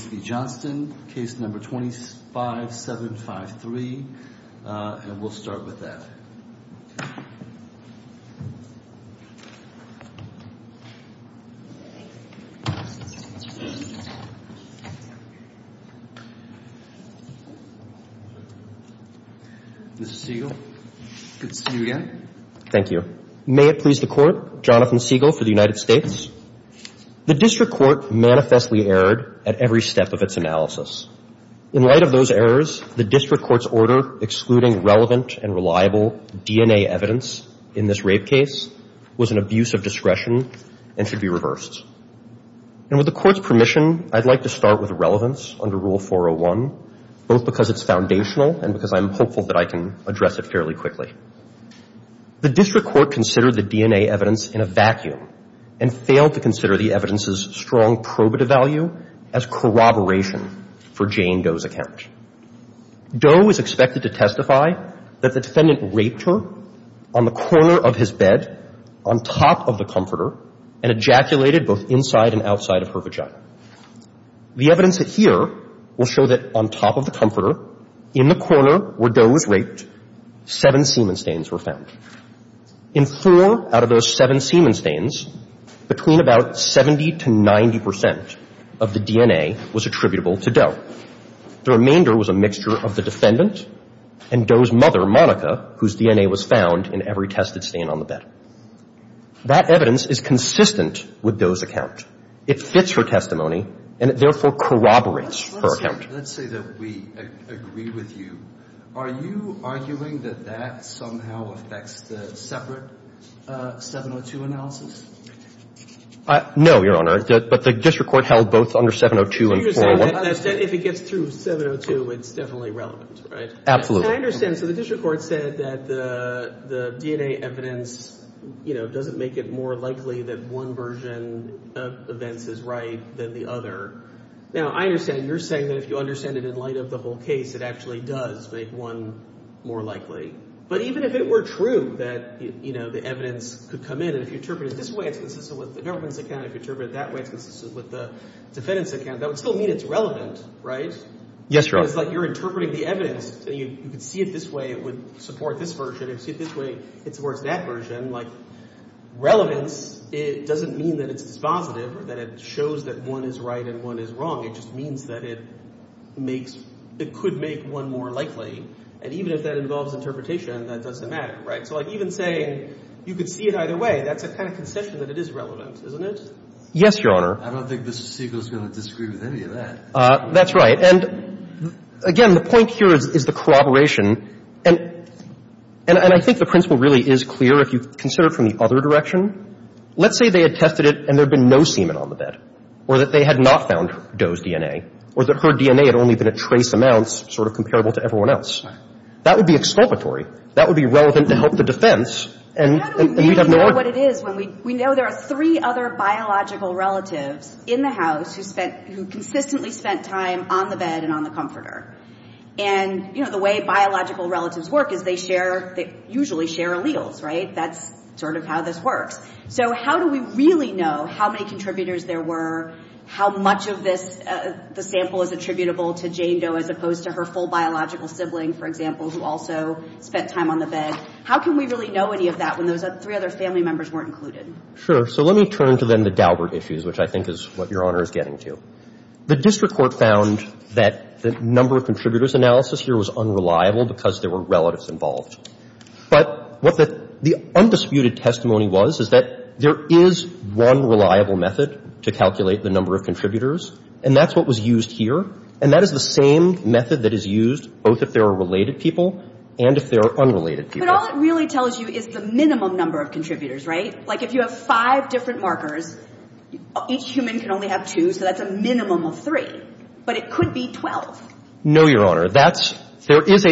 v. Johnston, Case No. 25753, and we'll start with that. Mr. Siegel, good to see you again. Thank you. May it please the Court, Jonathan Siegel for the United States. The District Court manifestly erred at every step of its analysis. In light of those errors, the District Court's order excluding relevant and reliable DNA evidence in this rape case was an abuse of discretion and should be reversed. And with the Court's permission, I'd like to start with relevance under Rule 401, both because it's foundational and because I'm hopeful that I can address it fairly quickly. The District Court considered the DNA evidence in a vacuum and failed to consider the evidence's strong probative value as corroboration for Jane Doe's account. Doe is expected to testify that the defendant raped her on the corner of his bed, on top of the comforter, and ejaculated both inside and outside of her vagina. The evidence here will show that on top of the comforter, in the corner where Doe was raped, seven semen stains were found. In four out of those seven semen stains, between about 70 to 90 percent of the DNA was attributable to Doe. The remainder was a mixture of the defendant and Doe's mother, Monica, whose DNA was found in every tested stain on the bed. That evidence is consistent with Doe's account. It fits her testimony, and it therefore corroborates her account. Let's say that we agree with you. Are you arguing that that somehow affects the separate 702 analysis? No, Your Honor. But the District Court held both under 702 and 401. If it gets through 702, it's definitely relevant, right? Absolutely. I understand. So the District Court said that the DNA evidence doesn't make it more likely that one version of events is right than the other. Now, I understand you're saying that if you understand it in light of the whole case, it actually does make one more likely. But even if it were true that the evidence could come in, and if you interpret it this way, it's consistent with the government's account. If you interpret it that way, it's consistent with the defendant's account. That would still mean it's relevant, right? Yes, Your Honor. It's like you're interpreting the evidence. You could see it this way, it would support this version. You could see it this way, it supports that version. Like relevance, it doesn't mean that it's dispositive or that it shows that one is right and one is wrong. It just means that it makes – it could make one more likely. And even if that involves interpretation, that doesn't matter, right? So like even saying you could see it either way, that's a kind of concession that it is relevant, isn't it? Yes, Your Honor. I don't think Mr. Siegel is going to disagree with any of that. That's right. And again, the point here is the corroboration. And I think the principle really is clear if you consider it from the other direction. Let's say they had tested it and there had been no semen on the bed, or that they had not found Doe's DNA, or that her DNA had only been at trace amounts sort of comparable to everyone else. That would be exculpatory. That would be relevant to help the defense, and we'd have no argument. And that is when we know there are three other biological relatives in the house who spent – who consistently spent time on the bed and on the comforter. And, you know, the way biological relatives work is they share – they usually share alleles, right? That's sort of how this works. So how do we really know how many contributors there were, how much of this – the sample is attributable to Jane Doe as opposed to her full biological sibling, for example, who also spent time on the bed? How can we really know any of that when those three other family members weren't included? Sure. So let me turn to then the Daubert issues, which I think is what Your Honor is getting to. The district court found that the number of contributors analysis here was unreliable because there were relatives involved. But what the undisputed testimony was is that there is one reliable method to calculate the number of contributors, and that's what was used here. And that is the same method that is used both if there are related people and if there are unrelated people. But all it really tells you is the minimum number of contributors, right? Like if you have five different markers, each human can only have two, so that's a minimum of three. But it could be 12. No, Your Honor. That's – there is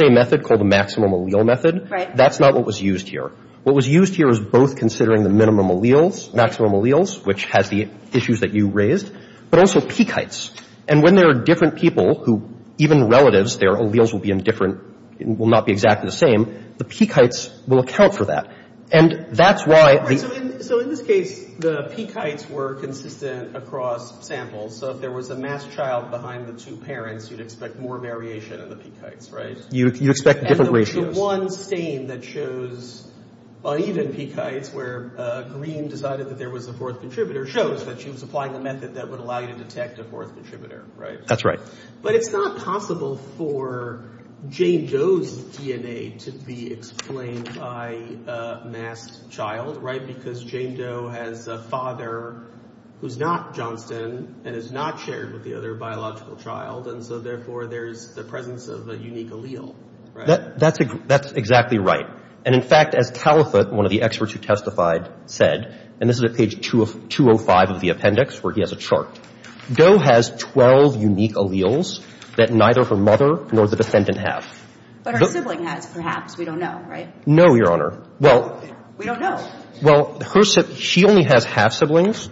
a method called the maximum allele method. Right. That's not what was used here. What was used here was both considering the minimum alleles, maximum alleles, which has the issues that you raised, but also peak heights. And when there are different people who – even relatives, their alleles will be in different – will not be exactly the same, the peak heights will account for that. And that's why – So in this case, the peak heights were consistent across samples. So if there was a mass child behind the two parents, you'd expect more variation in the peak heights, right? You expect different ratios. And the one stain that shows uneven peak heights where Green decided that there was a fourth contributor shows that she was applying a method that would allow you to detect a fourth contributor, right? That's right. But it's not possible for Jane Doe's DNA to be explained by a mass child, right? Because Jane Doe has a father who's not Johnston and is not shared with the other biological child, and so therefore there's the presence of a unique allele, right? That's exactly right. And in fact, as Talifutt, one of the experts who testified, said – and this is at page 205 of the appendix where he has a chart – Doe has 12 unique alleles that neither her mother nor the defendant have. But her sibling has, perhaps. We don't know, right? No, Your Honor. Well – We don't know. Well, her – she only has half-siblings.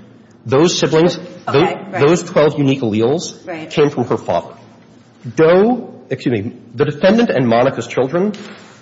Those siblings – Okay, right. Those 12 unique alleles came from her father. Doe – excuse me. The defendant and Monica's children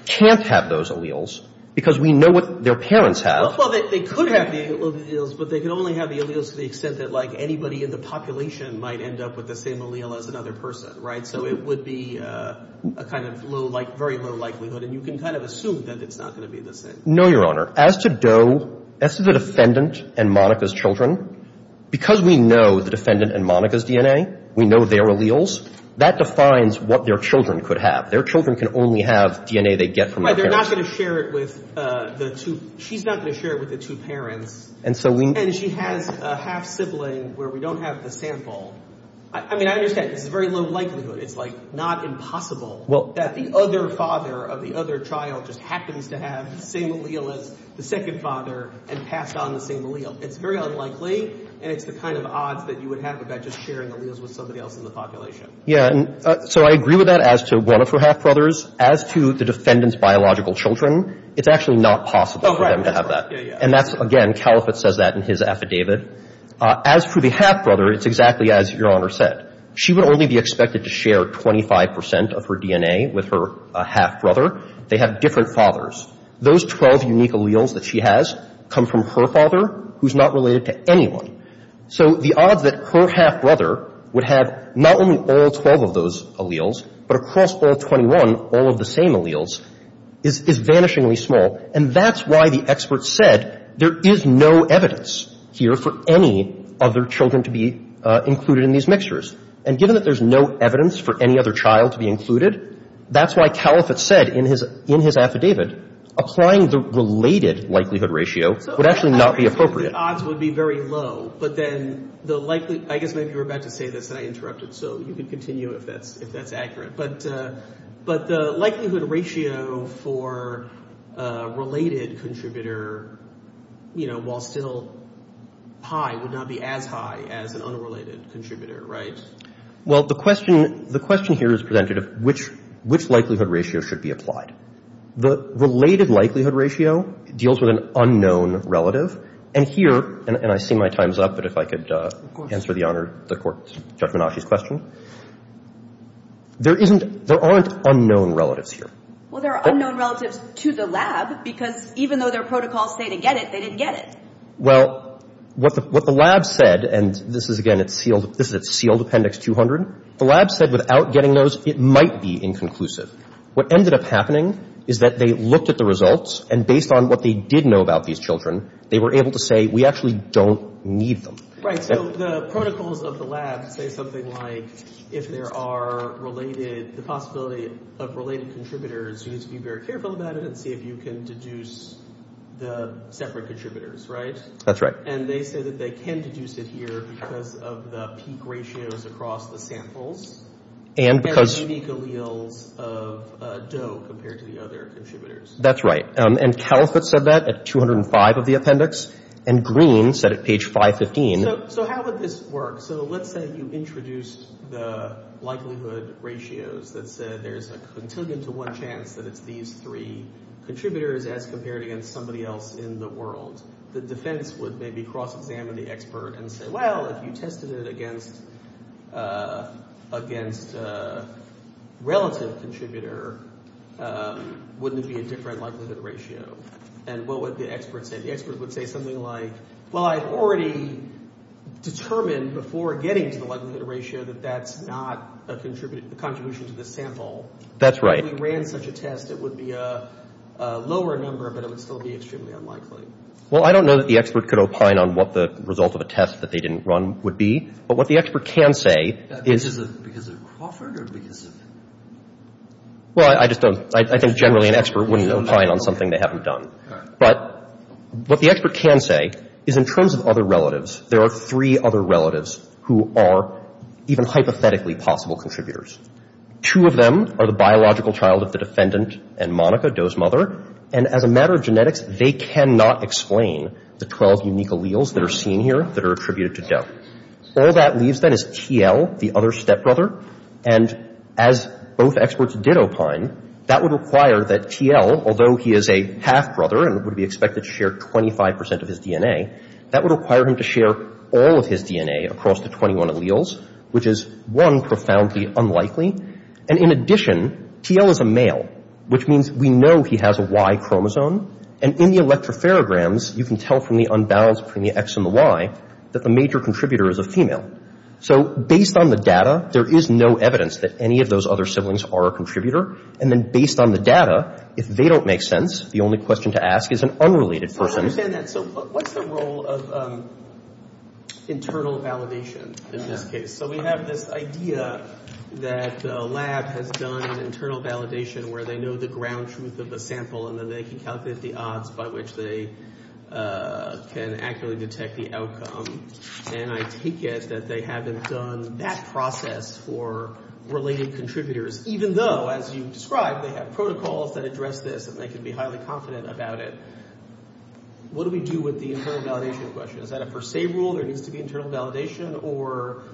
can't have those alleles because we know what their parents have. Well, they could have the alleles, but they could only have the alleles to the extent that, like, anybody in the population might end up with the same allele as another person, right? So it would be a kind of low – very low likelihood, and you can kind of assume that it's not going to be the same. No, Your Honor. As to Doe – as to the defendant and Monica's children, because we know the defendant and Monica's DNA, we know their alleles, that defines what their children could have. Their children can only have DNA they get from their parents. Right. They're not going to share it with the two – she's not going to share it with the two parents. And so we – And she has a half-sibling where we don't have the sample. I mean, I understand this is very low likelihood. It's, like, not impossible that the other father of the other child just happens to have the same allele as the second father and passed on the same allele. It's very unlikely, and it's the kind of odds that you would have about just sharing alleles with somebody else in the population. Yeah. And so I agree with that as to one of her half-brothers. As to the defendant's biological children, it's actually not possible for them to have that. That's right. Yeah, yeah. And that's – again, Caliphate says that in his affidavit. As for the half-brother, it's exactly as Your Honor said. She would only be expected to share 25 percent of her DNA with her half-brother. They have different fathers. Those 12 unique alleles that she has come from her father, who's not related to anyone. So the odds that her half-brother would have not only all 12 of those alleles, but across all 21, all of the same alleles, is vanishingly small. And that's why the expert said there is no evidence here for any other children to be included in these mixtures. And given that there's no evidence for any other child to be included, that's why Caliphate said in his affidavit applying the related likelihood ratio would actually not be appropriate. So the odds would be very low, but then the likely – I guess maybe you were about to say this, and I interrupted, so you can continue if that's accurate. But the likelihood ratio for a related contributor, you know, while still high, would not be as high as an unrelated contributor, right? Well, the question – the question here is presented of which likelihood ratio should be applied. The related likelihood ratio deals with an unknown relative. And here – and I see my time's up, but if I could answer the Honor – the Court's – Judge Minashi's question. There isn't – there aren't unknown relatives here. Well, there are unknown relatives to the lab, because even though their protocols say to get it, they didn't get it. Well, what the lab said – and this is, again, it's sealed – this is a sealed Appendix 200. The lab said without getting those, it might be inconclusive. What ended up happening is that they looked at the results, and based on what they did know about these children, they were able to say, we actually don't need them. Right. So the protocols of the lab say something like if there are related – the possibility of related contributors, you need to be very careful about it and see if you can deduce the separate contributors, right? That's right. And they say that they can deduce it here because of the peak ratios across the samples. And because – There are unique alleles of Doe compared to the other contributors. That's right. And Califitt said that at 205 of the Appendix, and Green said at page 515. So how would this work? So let's say you introduced the likelihood ratios that said there's a continuum to one chance that it's these three contributors as compared against somebody else in the world. The defense would maybe cross-examine the expert and say, well, if you tested it against relative contributor, wouldn't it be a different likelihood ratio? And what would the expert say? The expert would say something like, well, I've already determined before getting to the likelihood ratio that that's not a contribution to the sample. That's right. If we ran such a test, it would be a lower number, but it would still be extremely unlikely. Well, I don't know that the expert could opine on what the result of a test that they didn't run would be. But what the expert can say is – Because of Crawford or because of – Well, I just don't – I think generally an expert wouldn't opine on something they haven't done. But what the expert can say is in terms of other relatives, there are three other relatives who are even hypothetically possible contributors. Two of them are the biological child of the defendant and Monica, Doe's mother. And as a matter of genetics, they cannot explain the 12 unique alleles that are seen here that are attributed to Doe. All that leaves then is T.L., the other stepbrother. And as both experts did opine, that would require that T.L., although he is a half-brother and would be expected to share 25 percent of his DNA, that would require him to share all of his DNA across the 21 alleles, which is, one, profoundly unlikely. And in addition, T.L. is a male, which means we know he has a Y chromosome. And in the electrophorograms, you can tell from the unbalance between the X and the Y that the major contributor is a female. So based on the data, there is no evidence that any of those other siblings are a contributor. And then based on the data, if they don't make sense, the only question to ask is an unrelated person. I don't understand that. So what's the role of internal validation in this case? So we have this idea that a lab has done an internal validation where they know the ground truth of the sample and then they can calculate the odds by which they can accurately detect the outcome. And I take it that they haven't done that process for related contributors, even though, as you described, they have protocols that address this and they can be highly confident about it. What do we do with the internal validation question? Is that a per se rule? There needs to be internal validation? Or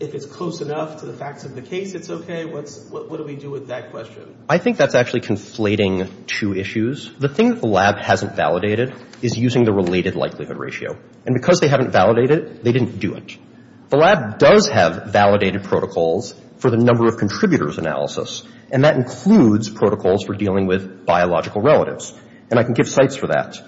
if it's close enough to the facts of the case, it's okay? What do we do with that question? I think that's actually conflating two issues. The thing that the lab hasn't validated is using the related likelihood ratio. And because they haven't validated it, they didn't do it. The lab does have validated protocols for the number of contributors analysis, and that includes protocols for dealing with biological relatives. And I can give sites for that.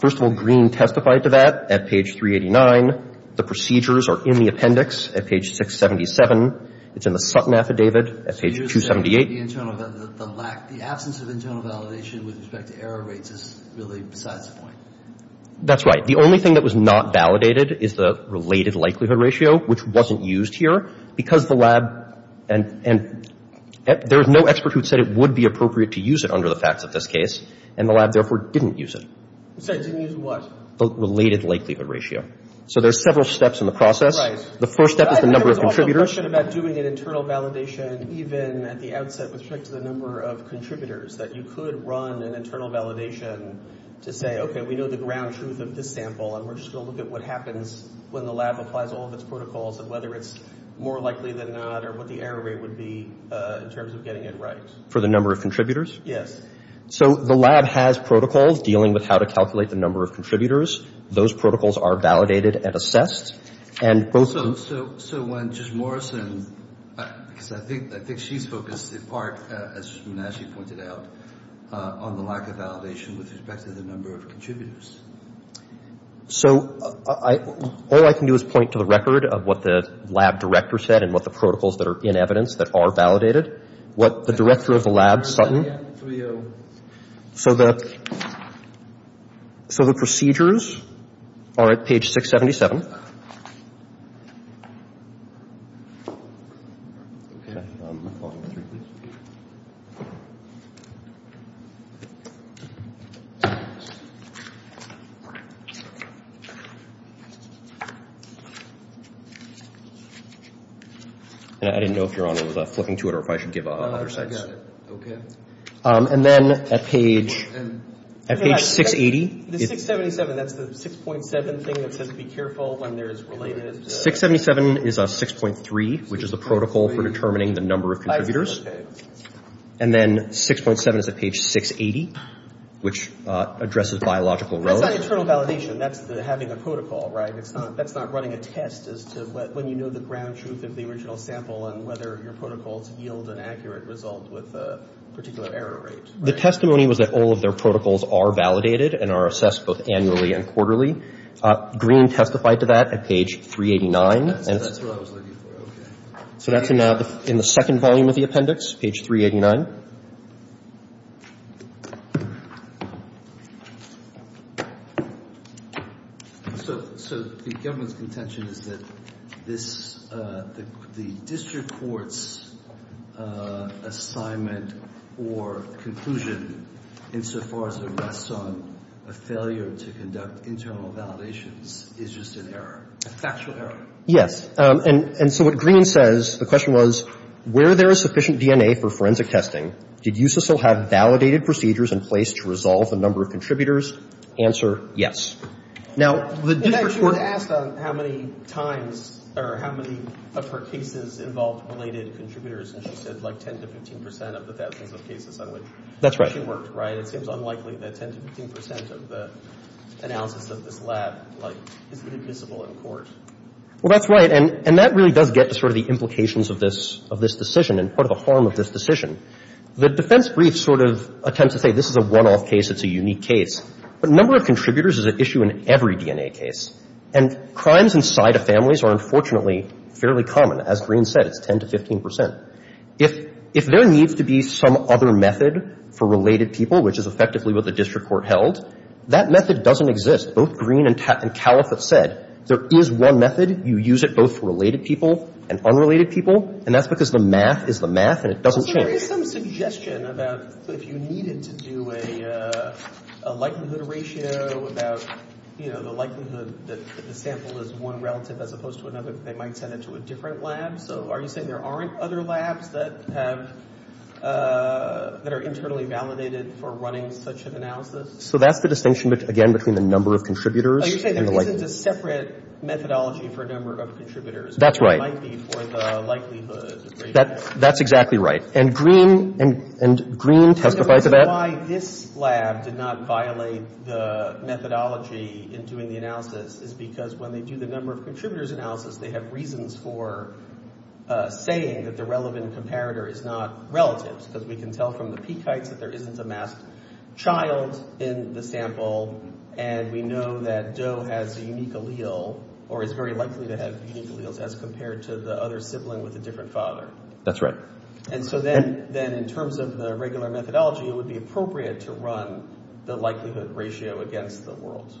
First of all, Green testified to that at page 389. The procedures are in the appendix at page 677. It's in the Sutton Affidavit at page 278. The absence of internal validation with respect to error rates is really besides the point. That's right. The only thing that was not validated is the related likelihood ratio, which wasn't used here. Because the lab—and there was no expert who said it would be appropriate to use it under the facts of this case. And the lab, therefore, didn't use it. Sorry, didn't use what? The related likelihood ratio. So there's several steps in the process. Right. The first step is the number of contributors. I thought there was also a question about doing an internal validation even at the outset with respect to the number of contributors, that you could run an internal validation to say, okay, we know the ground truth of this sample, and we're just going to look at what happens when the lab applies all of its protocols and whether it's more likely than not or what the error rate would be in terms of getting it right. For the number of contributors? Yes. So the lab has protocols dealing with how to calculate the number of contributors. Those protocols are validated and assessed. So when Judge Morrison—because I think she's focused in part, as she pointed out, on the lack of validation with respect to the number of contributors. So all I can do is point to the record of what the lab director said and what the protocols that are in evidence that are validated. What the director of the lab, Sutton— So the procedures are at page 677. And I didn't know if Your Honor was flipping to it or if I should give other sites. I got it. And then at page 680— Yeah, the 677, that's the 6.7 thing that says be careful. 677 is 6.3, which is the protocol for determining the number of contributors. And then 6.7 is at page 680, which addresses biological— The testimony was that all of their protocols are validated and are assessed both annually and quarterly. Green testified to that at page 389. That's what I was looking for. So that's in the second volume of the appendix, page 389. So the government's contention is that the district court's assignment or conclusion insofar as it rests on a failure to conduct internal validations is just an error, a factual error. Yes. And so what Green says, the question was, where there is sufficient DNA for forensic testing, did USISL have validated procedures in place to resolve the number of contributors? Answer, yes. Now, the district court— In fact, she was asked on how many times or how many of her cases involved related contributors, and she said like 10 to 15 percent of the thousands of cases. That's right. She worked, right? It seems unlikely that 10 to 15 percent of the analysis of this lab, like, is admissible in court. Well, that's right. And that really does get to sort of the implications of this decision and part of the harm of this decision. The defense brief sort of attempts to say this is a one-off case, it's a unique case. But number of contributors is an issue in every DNA case. And crimes inside of families are unfortunately fairly common. As Green said, it's 10 to 15 percent. If there needs to be some other method for related people, which is effectively what the district court held, that method doesn't exist. Both Green and Califf have said there is one method. You use it both for related people and unrelated people. And that's because the math is the math and it doesn't change. So there is some suggestion about if you needed to do a likelihood ratio about, you know, the likelihood that the sample is one relative as opposed to another, they might send it to a different lab. So are you saying there aren't other labs that have – that are internally validated for running such an analysis? So that's the distinction, again, between the number of contributors and the likelihood. Oh, you're saying there isn't a separate methodology for number of contributors. That's right. Or it might be for the likelihood ratio. That's exactly right. And Green – and Green testified to that. The reason why this lab did not violate the methodology in doing the analysis is because when they do the number of contributors analysis, they have reasons for saying that the relevant comparator is not relative because we can tell from the peak heights that there isn't a masked child in the sample and we know that Joe has a unique allele or is very likely to have unique alleles as compared to the other sibling with a different father. That's right. And so then in terms of the regular methodology, it would be appropriate to run the likelihood ratio against the world.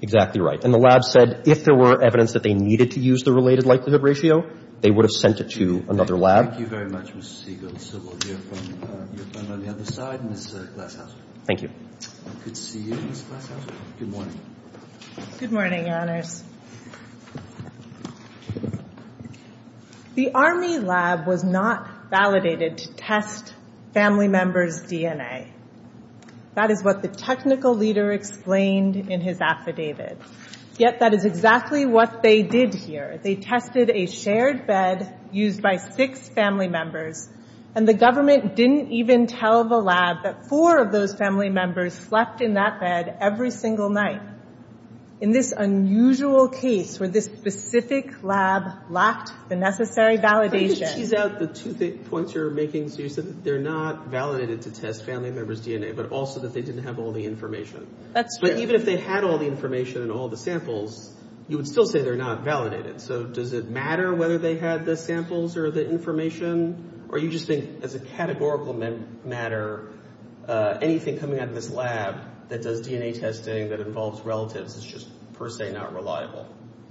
Exactly right. And the lab said if there were evidence that they needed to use the related likelihood ratio, they would have sent it to another lab. Thank you very much, Mr. Siegel. So we'll hear from your friend on the other side, Ms. Glasshouse. Thank you. Good to see you, Ms. Glasshouse. Good morning. Good morning, Your Honors. The Army lab was not validated to test family members' DNA. That is what the technical leader explained in his affidavit. Yet that is exactly what they did here. They tested a shared bed used by six family members, and the government didn't even tell the lab that four of those family members slept in that bed every single night. In this unusual case where this specific lab lacked the necessary validation. Can you tease out the two points you're making? So you said that they're not validated to test family members' DNA, but also that they didn't have all the information. That's right. But even if they had all the information and all the samples, you would still say they're not validated. So does it matter whether they had the samples or the information, or you just think as a categorical matter anything coming out of this lab that does DNA testing that involves relatives is just per se not reliable?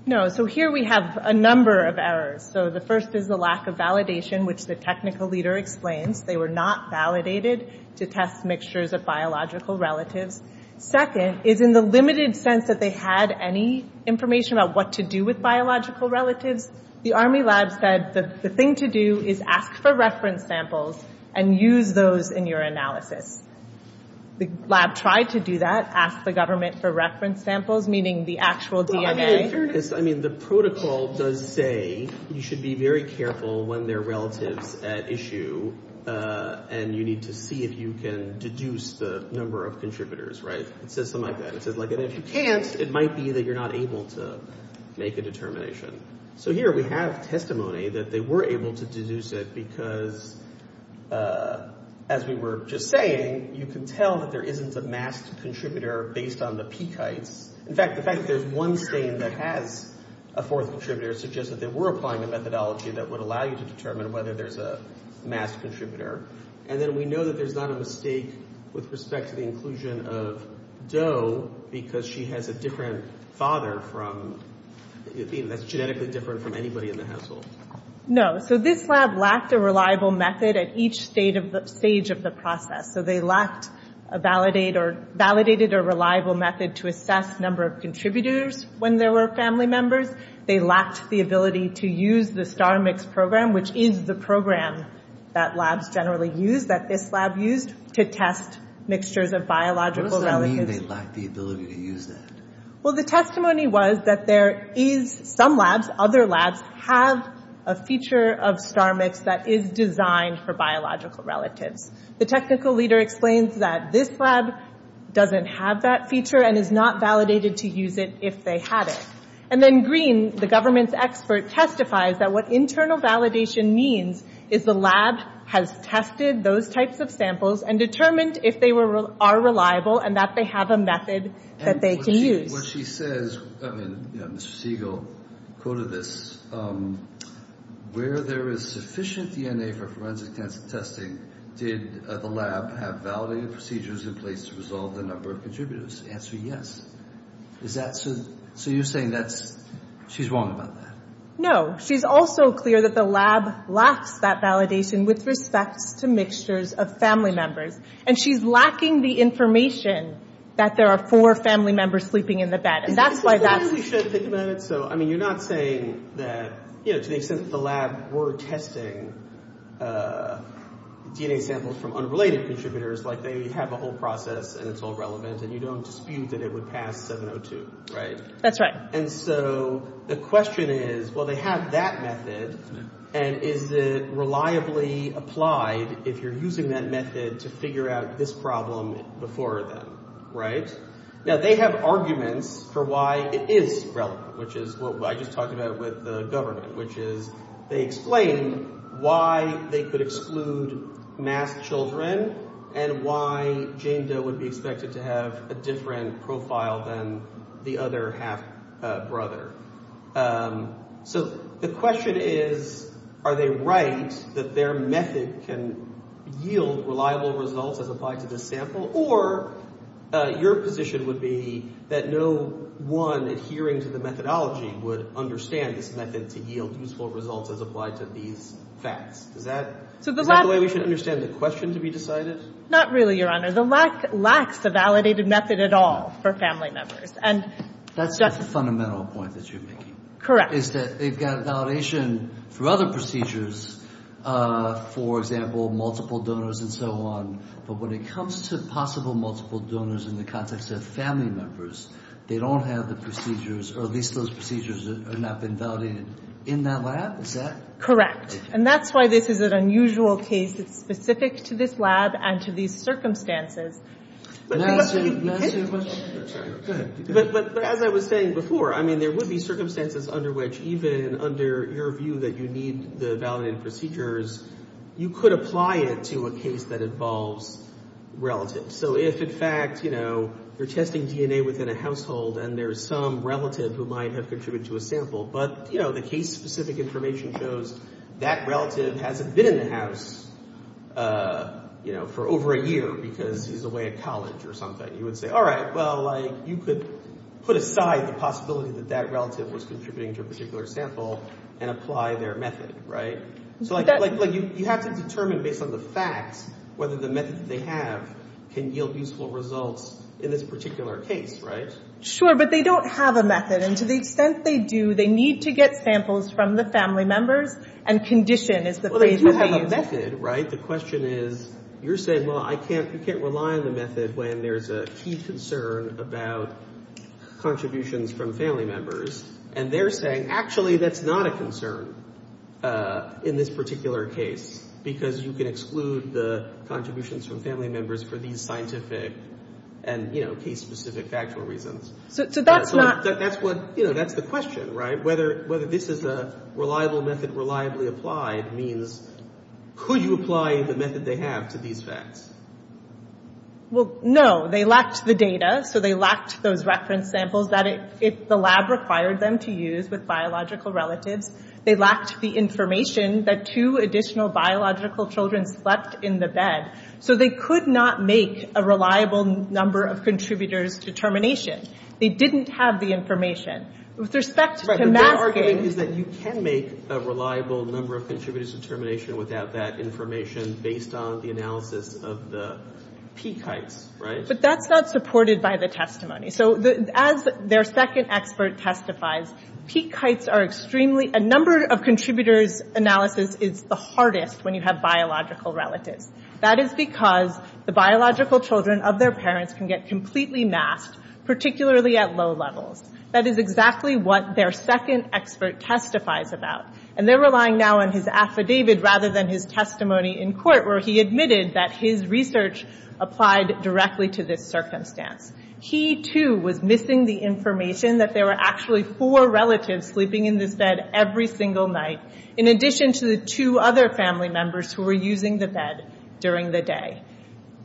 No. So here we have a number of errors. So the first is the lack of validation, which the technical leader explains. They were not validated to test mixtures of biological relatives. Second is in the limited sense that they had any information about what to do with biological relatives, the Army lab said the thing to do is ask for reference samples and use those in your analysis. The lab tried to do that, ask the government for reference samples, meaning the actual DNA. In fairness, I mean, the protocol does say you should be very careful when they're relatives at issue, and you need to see if you can deduce the number of contributors, right? It says something like that. It says, like, if you can't, it might be that you're not able to make a determination. So here we have testimony that they were able to deduce it because, as we were just saying, you can tell that there isn't a masked contributor based on the peak heights. In fact, the fact that there's one stain that has a fourth contributor suggests that they were applying a methodology that would allow you to determine whether there's a masked contributor. And then we know that there's not a mistake with respect to the inclusion of Doe because she has a different father from, that's genetically different from anybody in the household. No. So this lab lacked a reliable method at each stage of the process. So they lacked a validated or reliable method to assess number of contributors when there were family members. They lacked the ability to use the STAR-MIX program, which is the program that labs generally use, that this lab used to test mixtures of biological relatives. What does that mean, they lacked the ability to use that? Well, the testimony was that there is some labs, other labs, have a feature of STAR-MIX that is designed for biological relatives. The technical leader explains that this lab doesn't have that feature and is not validated to use it if they had it. And then Green, the government's expert, testifies that what internal validation means is the lab has tested those types of samples and determined if they are reliable and that they have a method that they can use. What she says, Mr. Siegel quoted this, where there is sufficient DNA for forensic testing, did the lab have validated procedures in place to resolve the number of contributors? The answer is yes. So you're saying that she's wrong about that? No. She's also clear that the lab lacks that validation with respect to mixtures of family members. And she's lacking the information that there are four family members sleeping in the bed. And that's why that's... We should think about it. So, I mean, you're not saying that, you know, to the extent that the lab were testing DNA samples from unrelated contributors, like they have a whole process and it's all relevant and you don't dispute that it would pass 702, right? That's right. And so the question is, well, they have that method and is it reliably applied if you're using that method to figure out this problem before then, right? Now, they have arguments for why it is relevant, which is what I just talked about with the government, which is they explained why they could exclude masked children and why Jane Doe would be expected to have a different profile than the other half-brother. So the question is, are they right that their method can yield reliable results as applied to this sample? Or your position would be that no one adhering to the methodology would understand this method to yield useful results as applied to these facts. Is that the way we should understand the question to be decided? Not really, Your Honor. The lack lacks a validated method at all for family members. That's the fundamental point that you're making. Correct. Is that they've got validation through other procedures, for example, multiple donors and so on. But when it comes to possible multiple donors in the context of family members, they don't have the procedures or at least those procedures have not been validated in that lab, is that? Correct. And that's why this is an unusual case. It's specific to this lab and to these circumstances. May I ask you a question? Go ahead. But as I was saying before, I mean, there would be circumstances under which even under your view that you need the validated procedures, you could apply it to a case that involves relatives. So if, in fact, you know, you're testing DNA within a household and there's some relative who might have contributed to a sample, but, you know, the case-specific information shows that relative hasn't been in the house, you know, for over a year because he's away at college or something. You would say, all right, well, like, you could put aside the possibility that that relative was contributing to a particular sample and apply their method, right? So, like, you have to determine based on the facts whether the method that they have can yield useful results in this particular case, right? Sure, but they don't have a method. And to the extent they do, they need to get samples from the family members and condition is the phrase that they use. But the method, right, the question is, you're saying, well, I can't rely on the method when there's a key concern about contributions from family members. And they're saying, actually, that's not a concern in this particular case because you can exclude the contributions from family members for these scientific and, you know, case-specific factual reasons. So that's not... That's what, you know, that's the question, right? Whether this is a reliable method reliably applied means could you apply the method they have to these facts? Well, no. They lacked the data. So they lacked those reference samples that the lab required them to use with biological relatives. They lacked the information that two additional biological children slept in the bed. So they could not make a reliable number of contributors determination. They didn't have the information. With respect to masking... Right, but their argument is that you can make a reliable number of contributors determination without that information based on the analysis of the peak heights, right? But that's not supported by the testimony. So as their second expert testifies, peak heights are extremely... A number of contributors analysis is the hardest when you have biological relatives. That is because the biological children of their parents can get completely masked, particularly at low levels. That is exactly what their second expert testifies about. And they're relying now on his affidavit rather than his testimony in court where he admitted that his research applied directly to this circumstance. He, too, was missing the information that there were actually four relatives sleeping in this bed every single night. In addition to the two other family members who were using the bed during the day.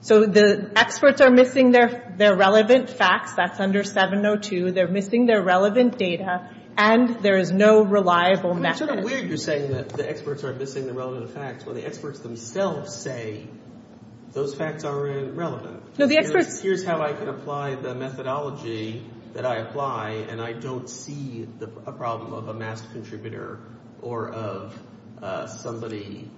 So the experts are missing their relevant facts. That's under 702. They're missing their relevant data. And there is no reliable method. It's sort of weird you're saying that the experts are missing the relevant facts when the experts themselves say those facts aren't relevant. No, the experts... Here's how I can apply the methodology that I apply. And I don't see a problem of a masked contributor or of somebody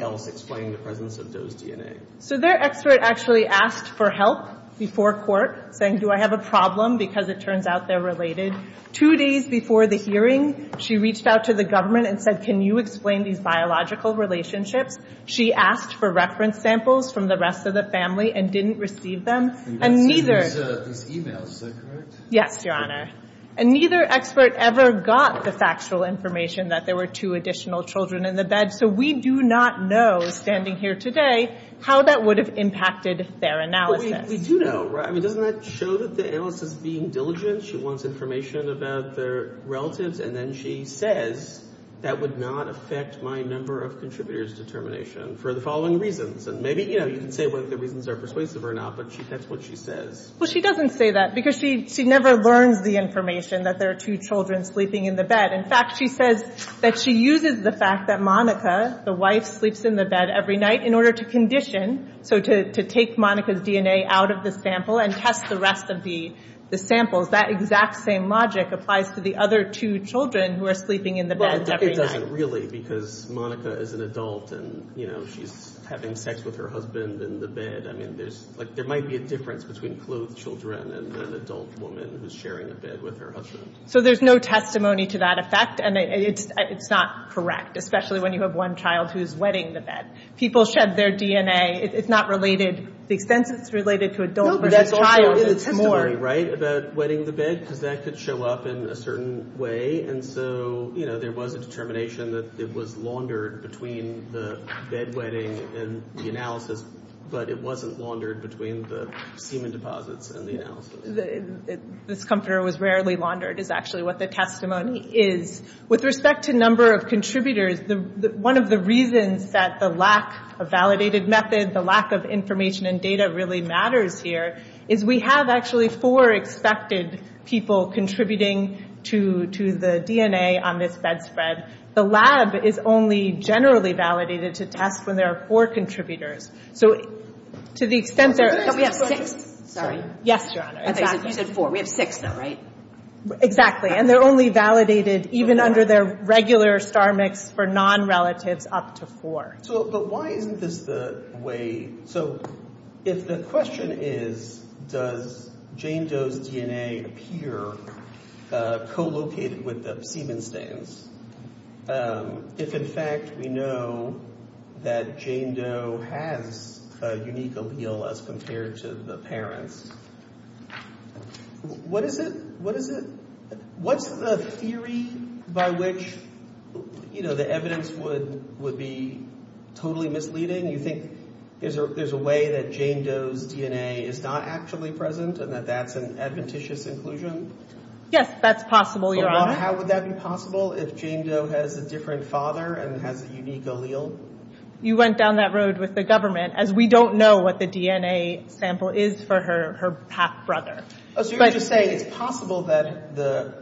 else explaining the presence of those DNA. So their expert actually asked for help before court saying, do I have a problem? Because it turns out they're related. Two days before the hearing, she reached out to the government and said, can you explain these biological relationships? She asked for reference samples from the rest of the family and didn't receive them. And neither... These e-mails, is that correct? Yes, Your Honor. And neither expert ever got the factual information that there were two additional children in the bed. So we do not know, standing here today, how that would have impacted their analysis. We do know, right? I mean, doesn't that show that the analyst is being diligent? She wants information about their relatives. And then she says, that would not affect my number of contributors determination for the following reasons. And maybe, you know, you can say whether the reasons are persuasive or not, but that's what she says. Well, she doesn't say that because she never learns the information that there are two children sleeping in the bed. In fact, she says that she uses the fact that Monica, the wife, sleeps in the bed every night in order to condition, so to take Monica's DNA out of the sample and test the rest of the samples. That exact same logic applies to the other two children who are sleeping in the bed every night. Well, it doesn't really because Monica is an adult and, you know, she's having sex with her husband in the bed. I mean, there's... Like, there might be a difference between clothed children and an adult woman who's sharing a bed with her husband. So there's no testimony to that effect, and it's not correct, especially when you have one child who's wetting the bed. People shed their DNA. It's not related. The extent it's related to adult versus child is more. You're right about wetting the bed because that could show up in a certain way, and so, you know, there was a determination that it was laundered between the bed wetting and the analysis, but it wasn't laundered between the semen deposits and the analysis. This comforter was rarely laundered is actually what the testimony is. With respect to number of contributors, one of the reasons that the lack of validated method, the lack of information and data really matters here is we have actually four expected people contributing to the DNA on this bed spread. The lab is only generally validated to test when there are four contributors. So to the extent there... But we have six. Sorry. Yes, Your Honor. You said four. We have six, though, right? Exactly, and they're only validated even under their regular star mix for non-relatives up to four. But why isn't this the way... So if the question is does Jane Doe's DNA appear co-located with the semen stains, if, in fact, we know that Jane Doe has a unique allele as compared to the parents, what is the theory by which the evidence would be totally misleading? You think there's a way that Jane Doe's DNA is not actually present and that that's an adventitious inclusion? Yes, that's possible, Your Honor. How would that be possible if Jane Doe has a different father and has a unique allele? You went down that road with the government, as we don't know what the DNA sample is for her half-brother. So you're just saying it's possible that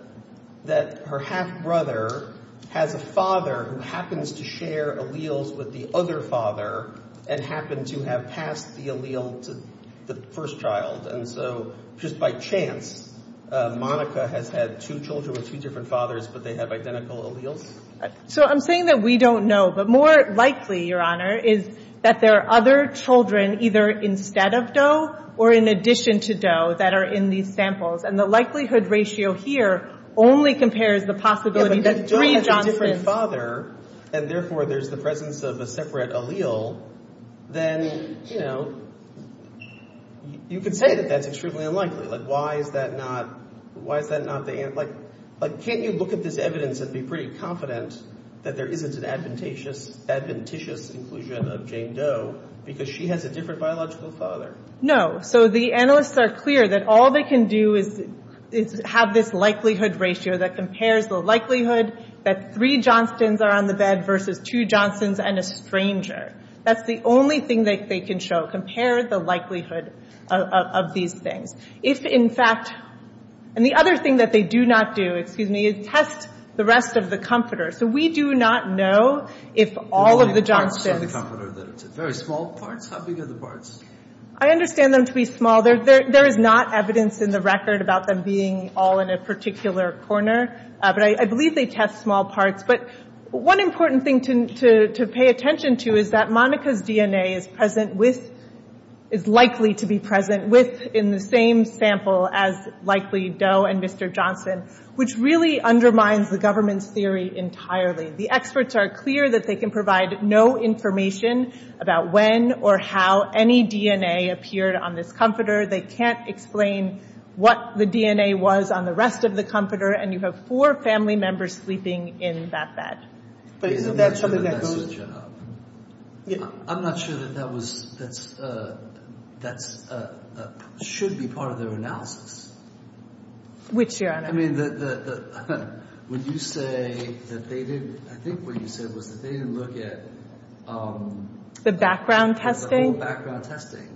her half-brother has a father who happens to share alleles with the other father and happened to have passed the allele to the first child, and so just by chance Monica has had two children with two different fathers but they have identical alleles? So I'm saying that we don't know, but more likely, Your Honor, is that there are other children either instead of Doe or in addition to Doe that are in these samples, and the likelihood ratio here only compares the possibility that three Johnsons... Yeah, but if Doe has a different father, and therefore there's the presence of a separate allele, then, you know, you could say that that's extremely unlikely. Like, why is that not the... Like, can't you look at this evidence and be pretty confident that there isn't an adventitious inclusion of Jane Doe because she has a different biological father? No. So the analysts are clear that all they can do is have this likelihood ratio that compares the likelihood that three Johnstons are on the bed versus two Johnstons and a stranger. That's the only thing that they can show, compare the likelihood of these things. If, in fact... And the other thing that they do not do, excuse me, is test the rest of the comforter. So we do not know if all of the Johnstons... There's only parts of the comforter that it's in. Very small parts? How big are the parts? I understand them to be small. There is not evidence in the record about them being all in a particular corner. But I believe they test small parts. But one important thing to pay attention to is that Monica's DNA is present with... is likely to be present with in the same sample as likely Doe and Mr. Johnson, which really undermines the government's theory entirely. The experts are clear that they can provide no information about when or how any DNA appeared on this comforter. They can't explain what the DNA was on the rest of the comforter. And you have four family members sleeping in that bed. But isn't that something that goes... I'm not sure that that should be part of their analysis. Which, Your Honor? I mean, would you say that they didn't... I think what you said was that they didn't look at... The background testing? The whole background testing.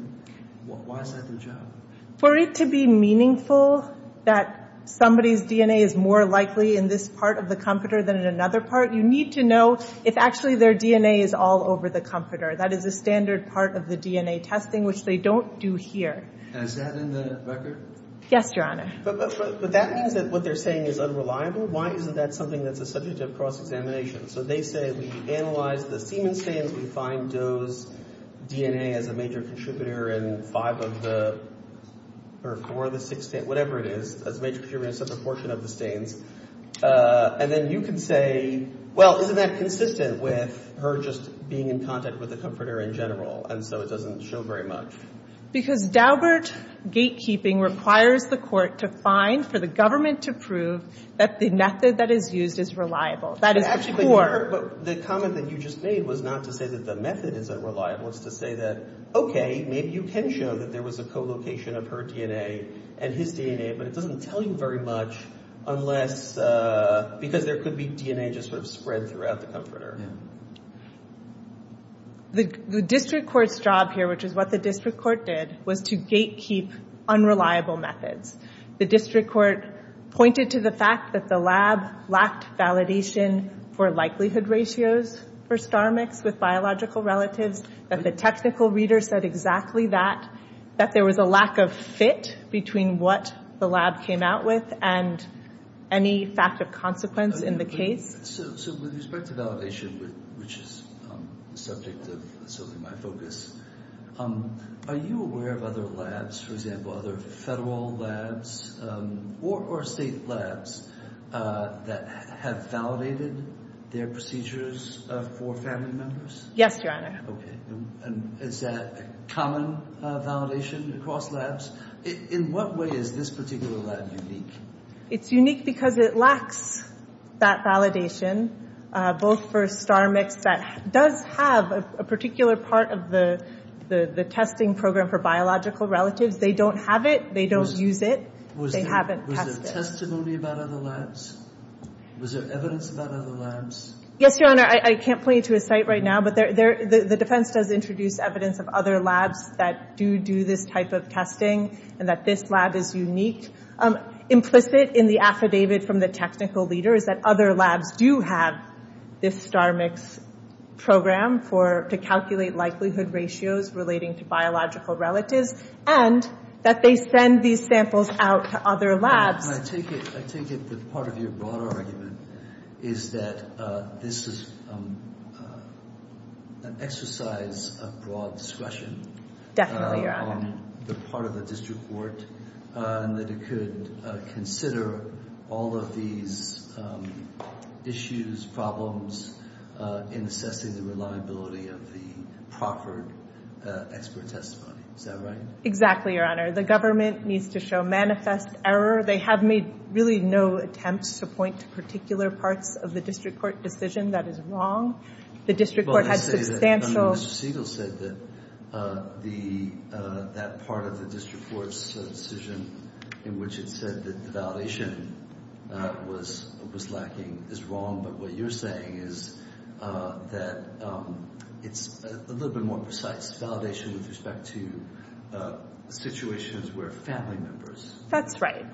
Why is that their job? For it to be meaningful that somebody's DNA is more likely in this part of the comforter than in another part, you need to know if actually their DNA is all over the comforter. That is a standard part of the DNA testing, which they don't do here. And is that in the record? Yes, Your Honor. But that means that what they're saying is unreliable? Why isn't that something that's a subject of cross-examination? So they say we analyze the semen stains, we find Doe's DNA as a major contributor in five of the... or four of the six... whatever it is, as a major contributor in a certain portion of the stains. And then you can say, well, isn't that consistent with her just being in contact with the comforter in general? And so it doesn't show very much. Because Daubert gatekeeping requires the court to find for the government to prove that the method that is used is reliable. That is the court. But actually, Your Honor, the comment that you just made was not to say that the method isn't reliable. It's to say that, okay, maybe you can show that there was a co-location of her DNA and his DNA, but it doesn't tell you very much unless... because there could be DNA just sort of spread throughout the comforter. The district court's job here, which is what the district court did, was to gatekeep unreliable methods. The district court pointed to the fact that the lab lacked validation for likelihood ratios for StarMix with biological relatives, that the technical reader said exactly that, that there was a lack of fit between what the lab came out with and any fact of consequence in the case. So with respect to validation, which is the subject of my focus, are you aware of other labs, for example, other federal labs or state labs that have validated their procedures for family members? Yes, Your Honor. Okay, and is that common validation across labs? In what way is this particular lab unique? It's unique because it lacks that validation, both for StarMix that does have a particular part of the testing program for biological relatives. They don't have it. They don't use it. They haven't tested it. Was there testimony about other labs? Was there evidence about other labs? Yes, Your Honor. I can't point you to a site right now, but the defense does introduce evidence of other labs that do do this type of testing and that this lab is unique. Implicit in the affidavit from the technical leader is that other labs do have this StarMix program to calculate likelihood ratios relating to biological relatives and that they send these samples out to other labs. I take it that part of your broader argument is that this is an exercise of broad discretion. Definitely, Your Honor. On the part of the district court and that it could consider all of these issues, problems in assessing the reliability of the proffered expert testimony. Is that right? Exactly, Your Honor. The government needs to show manifest error. They have made really no attempts to point to particular parts of the district court decision that is wrong. The district court has substantial… Well, let's say that Mr. Siegel said that that part of the district court's decision in which it said that the validation was lacking is wrong, but what you're saying is that it's a little bit more precise validation with respect to situations where family members… That's right.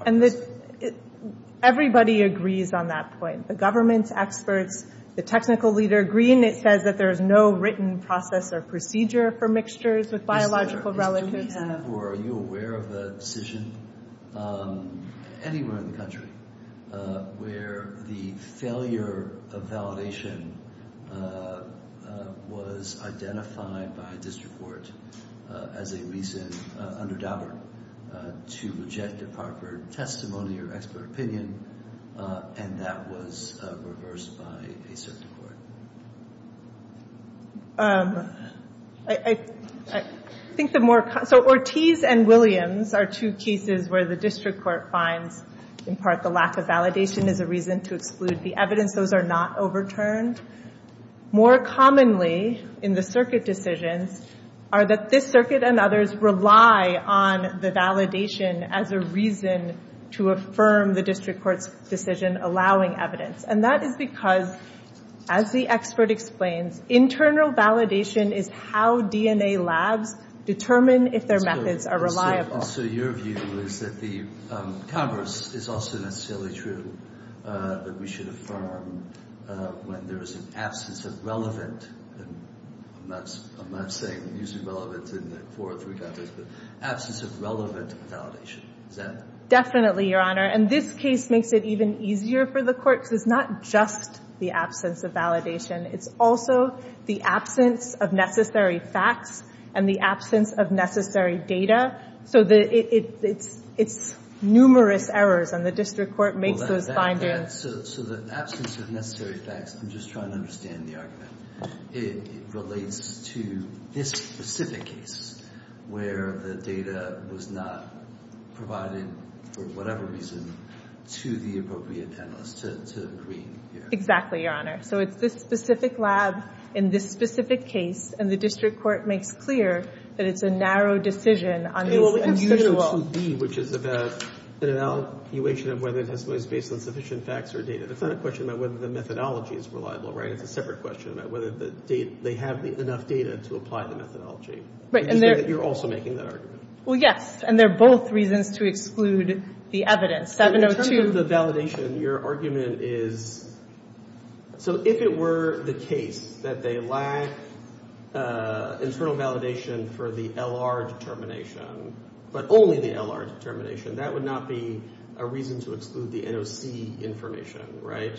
Everybody agrees on that point. The government's experts, the technical leader agree, and it says that there is no written process or procedure for mixtures with biological relatives. Are you aware of a decision anywhere in the country where the failure of validation was identified by a district court as a reason, under Daubert, to reject the proffered testimony or expert opinion, and that was reversed by a certain court? I think the more… So Ortiz and Williams are two cases where the district court finds, in part, the lack of validation is a reason to exclude the evidence. Those are not overturned. More commonly in the circuit decisions are that this circuit and others rely on the validation as a reason to affirm the district court's decision allowing evidence. And that is because, as the expert explains, internal validation is how DNA labs determine if their methods are reliable. So your view is that the converse is also necessarily true, that we should affirm when there is an absence of relevant… I'm not saying using relevant in four or three contexts, but absence of relevant validation. Is that… Definitely, Your Honor. And this case makes it even easier for the court because it's not just the absence of validation. It's also the absence of necessary facts and the absence of necessary data. So it's numerous errors, and the district court makes those findings. So the absence of necessary facts, I'm just trying to understand the argument. It relates to this specific case where the data was not provided, for whatever reason, to the appropriate panelist, to Green. Exactly, Your Honor. So it's this specific lab in this specific case, and the district court makes clear that it's a narrow decision on this unusual… It's not a question about whether the methodology is reliable, right? It's a separate question about whether they have enough data to apply the methodology. Right. You're also making that argument. Well, yes, and they're both reasons to exclude the evidence. In terms of the validation, your argument is… So if it were the case that they lack internal validation for the LR determination, but only the LR determination, that would not be a reason to exclude the NOC information, right?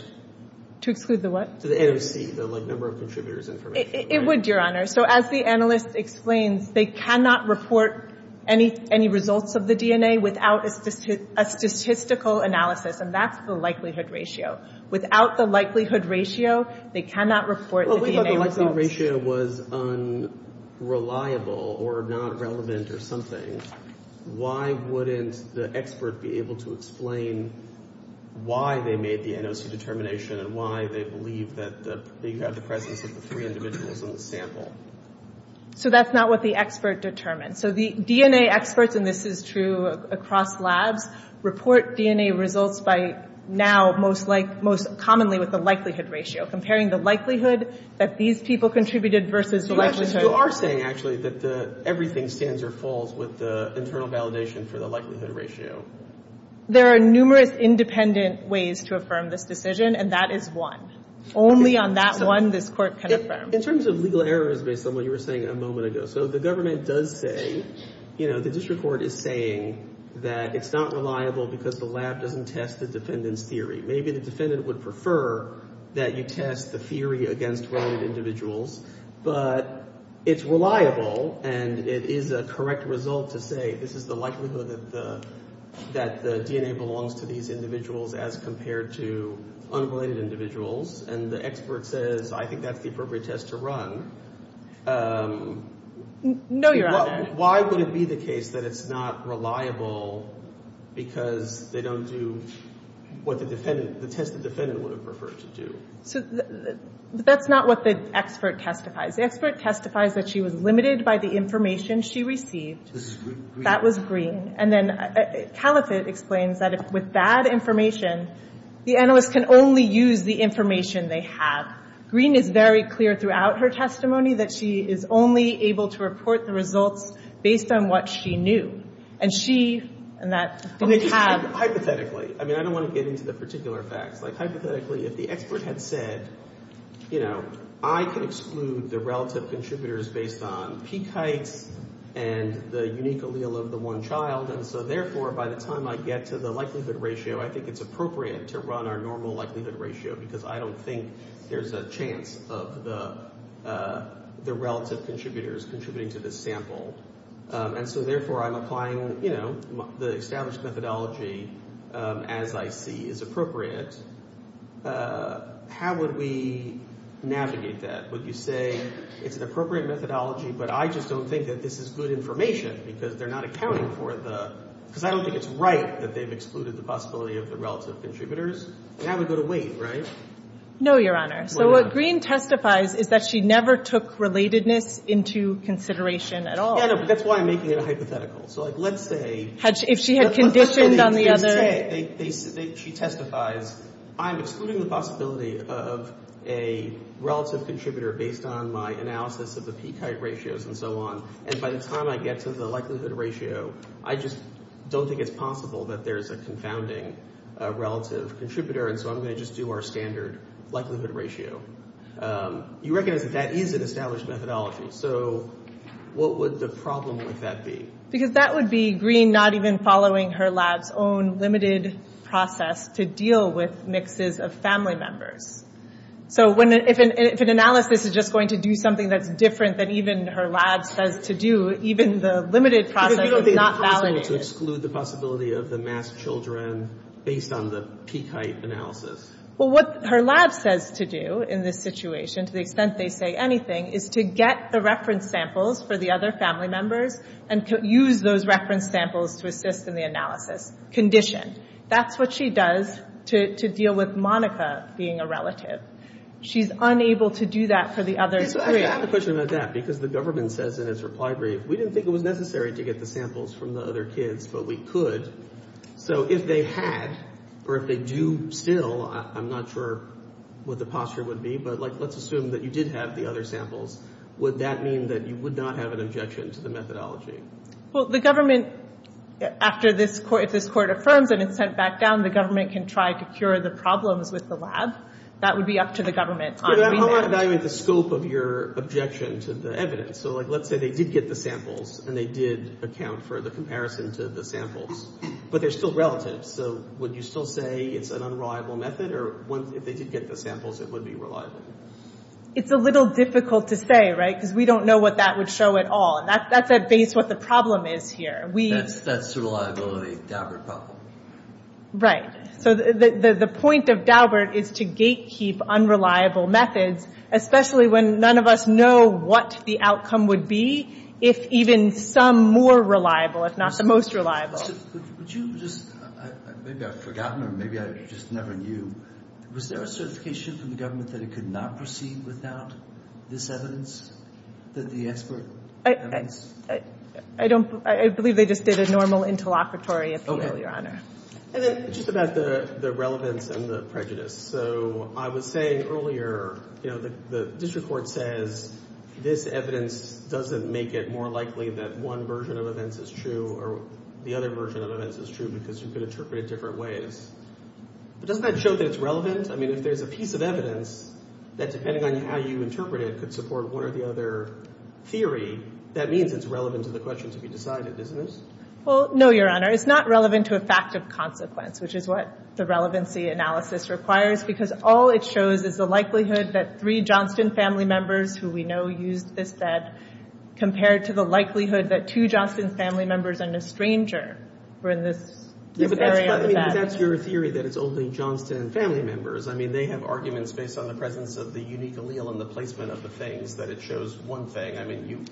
To exclude the what? The NOC, the number of contributors information. It would, Your Honor. So as the analyst explains, they cannot report any results of the DNA without a statistical analysis, and that's the likelihood ratio. Without the likelihood ratio, they cannot report the DNA results. If the likelihood ratio was unreliable or not relevant or something, why wouldn't the expert be able to explain why they made the NOC determination and why they believe that you have the presence of the three individuals in the sample? So that's not what the expert determines. So the DNA experts, and this is true across labs, report DNA results by now most commonly with the likelihood ratio, comparing the likelihood that these people contributed versus the likelihood… You are saying, actually, that everything stands or falls with the internal validation for the likelihood ratio. There are numerous independent ways to affirm this decision, and that is one. Only on that one, this court can affirm. In terms of legal errors, based on what you were saying a moment ago, so the government does say, you know, the district court is saying that it's not reliable because the lab doesn't test the defendant's theory. Maybe the defendant would prefer that you test the theory against related individuals, but it's reliable and it is a correct result to say this is the likelihood that the DNA belongs to these individuals as compared to unrelated individuals, and the expert says I think that's the appropriate test to run. No, Your Honor. Why would it be the case that it's not reliable because they don't do what the defendant, the test the defendant would have preferred to do? So that's not what the expert testifies. The expert testifies that she was limited by the information she received. This is green. That was green. And then Caliphate explains that with bad information, the analyst can only use the information they have. Green is very clear throughout her testimony that she is only able to report the results based on what she knew. And she, and that, I think we have. Hypothetically. I mean, I don't want to get into the particular facts. Like, hypothetically, if the expert had said, you know, I can exclude the relative contributors based on peak heights and the unique allele of the one child, and so, therefore, by the time I get to the likelihood ratio, I think it's appropriate to run our normal likelihood ratio because I don't think there's a chance of the relative contributors contributing to this sample. And so, therefore, I'm applying, you know, the established methodology as I see is appropriate. How would we navigate that? Would you say it's an appropriate methodology, but I just don't think that this is good information because they're not accounting for the, because I don't think it's right that they've excluded the possibility of the relative contributors. Now we go to Wade, right? No, Your Honor. So what Green testifies is that she never took relatedness into consideration at all. Yeah, no, but that's why I'm making it a hypothetical. So, like, let's say. If she had conditioned on the other. She testifies, I'm excluding the possibility of a relative contributor based on my analysis of the peak height ratios and so on. And by the time I get to the likelihood ratio, I just don't think it's possible that there's a confounding relative contributor. And so I'm going to just do our standard likelihood ratio. You recognize that that is an established methodology. So what would the problem with that be? Because that would be Green not even following her lab's own limited process to deal with mixes of family members. So if an analysis is just going to do something that's different than even her lab says to do, even the limited process is not valid. It would be impossible to exclude the possibility of the masked children based on the peak height analysis. Well, what her lab says to do in this situation, to the extent they say anything, is to get the reference samples for the other family members and use those reference samples to assist in the analysis. That's what she does to deal with Monica being a relative. She's unable to do that for the other three. I have a question about that. Because the government says in its reply brief, we didn't think it was necessary to get the samples from the other kids, but we could. So if they had, or if they do still, I'm not sure what the posture would be, but let's assume that you did have the other samples. Would that mean that you would not have an objection to the methodology? Well, the government, if this court affirms and it's sent back down, the government can try to cure the problems with the lab. That would be up to the government. How would I evaluate the scope of your objection to the evidence? So, like, let's say they did get the samples and they did account for the comparison to the samples, but they're still relatives. So would you still say it's an unreliable method, or if they did get the samples, it would be reliable? It's a little difficult to say, right, because we don't know what that would show at all. And that's at base what the problem is here. That's the reliability Daubert problem. Right. So the point of Daubert is to gatekeep unreliable methods, especially when none of us know what the outcome would be, if even some more reliable, if not the most reliable. Would you just, maybe I've forgotten or maybe I just never knew, was there a certification from the government that it could not proceed without this evidence, that the expert evidence? I don't, I believe they just did a normal interlocutory appeal, Your Honor. And then just about the relevance and the prejudice. So I was saying earlier, you know, the district court says this evidence doesn't make it more likely that one version of events is true or the other version of events is true because you could interpret it different ways. But doesn't that show that it's relevant? I mean, if there's a piece of evidence that, depending on how you interpret it, could support one or the other theory, that means it's relevant to the question to be decided, isn't it? Well, no, Your Honor. It's not relevant to a fact of consequence, which is what the relevancy analysis requires, because all it shows is the likelihood that three Johnston family members who we know used this bed compared to the likelihood that two Johnston family members and a stranger were in this area of the bed. But that's your theory that it's only Johnston family members. I mean, they have arguments based on the presence of the unique allele and the placement of the things that it shows one thing. I mean, you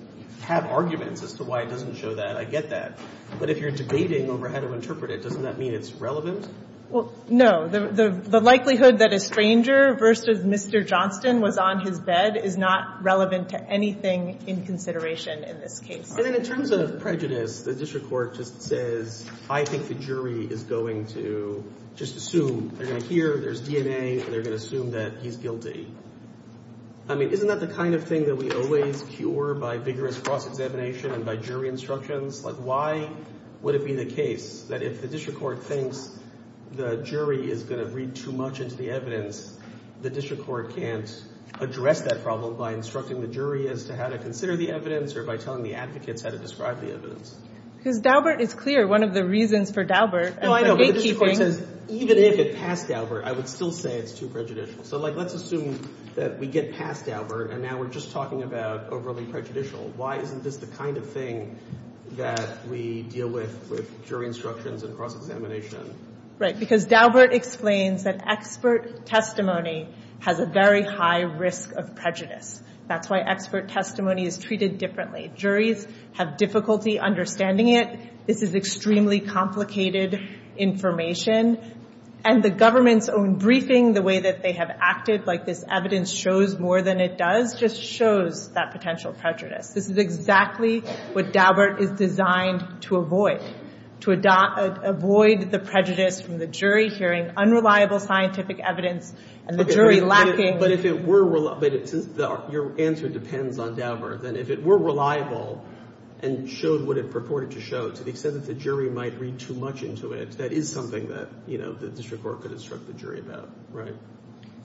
have arguments as to why it doesn't show that. I get that. But if you're debating over how to interpret it, doesn't that mean it's relevant? Well, no. The likelihood that a stranger versus Mr. Johnston was on his bed is not relevant to anything in consideration in this case. And then in terms of prejudice, the district court just says, I think the jury is going to just assume. They're going to hear there's DNA, and they're going to assume that he's guilty. I mean, isn't that the kind of thing that we always cure by vigorous cross-examination and by jury instructions? Like, why would it be the case that if the district court thinks the jury is going to read too much into the evidence, the district court can't address that problem by instructing the jury as to how to consider the evidence or by telling the advocates how to describe the evidence? Because Daubert is clear. One of the reasons for Daubert is gatekeeping. Even if it passed Daubert, I would still say it's too prejudicial. So, like, let's assume that we get past Daubert, and now we're just talking about overly prejudicial. Why isn't this the kind of thing that we deal with with jury instructions and cross-examination? Right, because Daubert explains that expert testimony has a very high risk of prejudice. That's why expert testimony is treated differently. Juries have difficulty understanding it. This is extremely complicated information. And the government's own briefing, the way that they have acted, like this evidence shows more than it does, just shows that potential prejudice. This is exactly what Daubert is designed to avoid, to avoid the prejudice from the jury hearing unreliable scientific evidence and the jury lacking. But your answer depends on Daubert. And if it were reliable and showed what it purported to show, to the extent that the jury might read too much into it, that is something that the district court could instruct the jury about, right?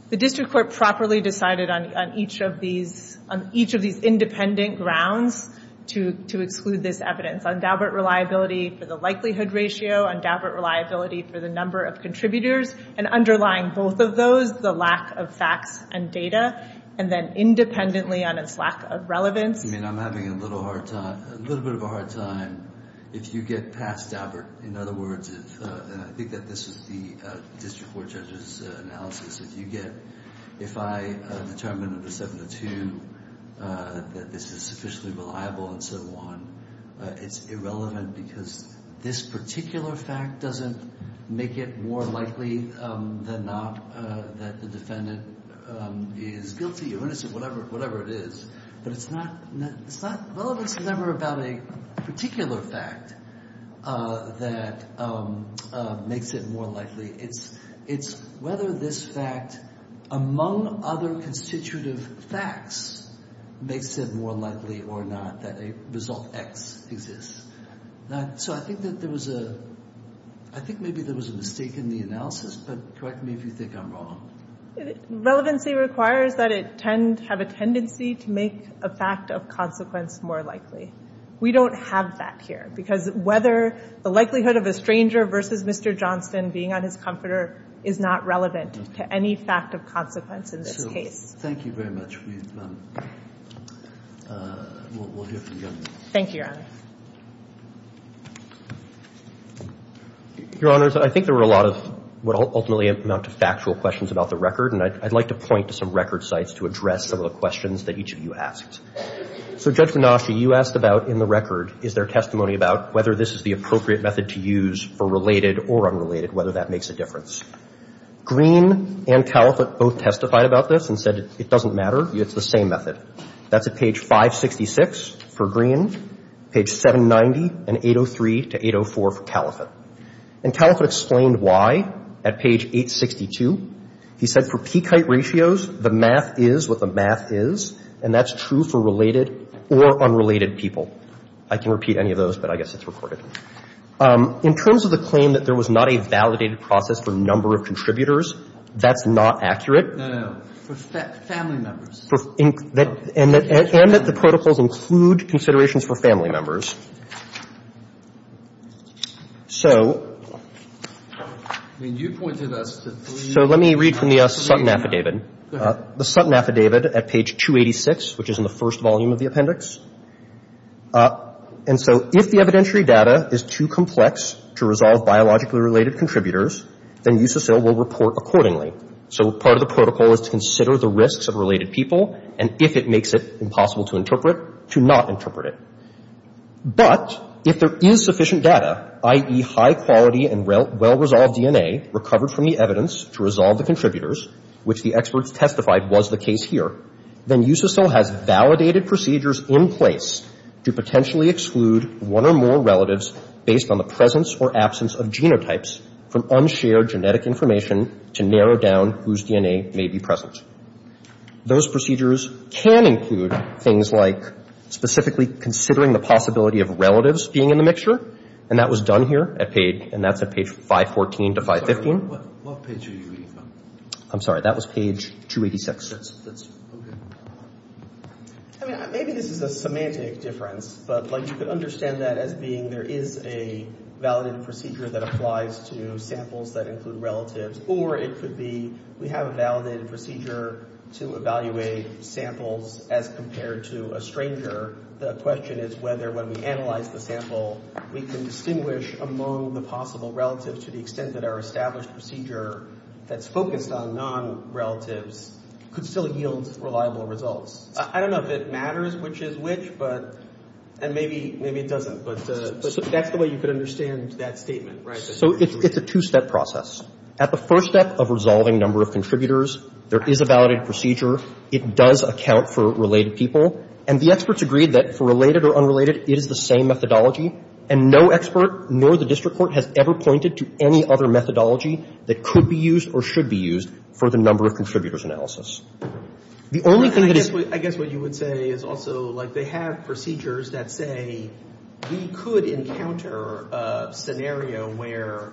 The district court properly decided on each of these independent grounds to exclude this evidence. On Daubert reliability for the likelihood ratio, on Daubert reliability for the number of contributors, and underlying both of those, the lack of facts and data, and then independently on its lack of relevance. I mean, I'm having a little hard time, a little bit of a hard time if you get past Daubert. In other words, and I think that this is the district court judge's analysis, if you get, if I determine under 702 that this is sufficiently reliable and so on, it's irrelevant because this particular fact doesn't make it more likely than not that the defendant is guilty or innocent, whatever it is. But it's not, well, it's never about a particular fact that makes it more likely. It's whether this fact, among other constitutive facts, makes it more likely or not that a result X exists. So I think that there was a, I think maybe there was a mistake in the analysis, but correct me if you think I'm wrong. Relevancy requires that it tend, have a tendency to make a fact of consequence more likely. We don't have that here because whether the likelihood of a stranger versus Mr. Johnston being on his comforter is not relevant to any fact of consequence in this case. Thank you very much. We'll hear from you. Thank you, Your Honor. Your Honors, I think there were a lot of what ultimately amount to factual questions about the record, and I'd like to point to some record sites to address some of the questions that each of you asked. So Judge Minasci, you asked about in the record, is there testimony about whether this is the appropriate method to use for related or unrelated, whether that makes a difference. Green and Caliphate both testified about this and said it doesn't matter. It's the same method. That's at page 566 for Green, page 790 and 803 to 804 for Caliphate. And Caliphate explained why at page 862. He said for peak height ratios, the math is what the math is, and that's true for related or unrelated people. I can repeat any of those, but I guess it's recorded. In terms of the claim that there was not a validated process for number of contributors, that's not accurate. No, no, no. For family members. And that the protocols include considerations for family members. So let me read from the Sutton Affidavit. The Sutton Affidavit at page 286, which is in the first volume of the appendix. And so if the evidentiary data is too complex to resolve biologically related contributors, then USACIL will report accordingly. So part of the protocol is to consider the risks of related people, and if it makes it impossible to interpret, to not interpret it. But if there is sufficient data, i.e., high quality and well-resolved DNA recovered from the evidence to resolve the contributors, which the experts testified was the case here, then USACIL has validated procedures in place to potentially exclude one or more relatives based on the presence or absence of genotypes from unshared genetic information to narrow down whose DNA may be present. Those procedures can include things like specifically considering the possibility of relatives being in the mixture, and that was done here at page, and that's at page 514 to 515. What page are you reading from? I'm sorry. That was page 286. That's okay. I mean, maybe this is a semantic difference, but, like, you could understand that as being there is a validated procedure that applies to samples that include relatives, or it could be we have a validated procedure to evaluate samples as compared to a stranger. The question is whether when we analyze the sample, we can distinguish among the possible relatives to the extent that our established procedure that's focused on non-relatives could still yield reliable results. I don't know if it matters which is which, but, and maybe it doesn't, but that's the way you could understand that statement, right? So it's a two-step process. At the first step of resolving number of contributors, there is a validated procedure. It does account for related people, and the experts agreed that for related or unrelated, it is the same methodology, and no expert nor the district court has ever pointed to any other methodology that could be used or should be used for the number of contributors analysis. The only thing that is — I guess what you would say is also, like, they have procedures that say we could encounter a scenario where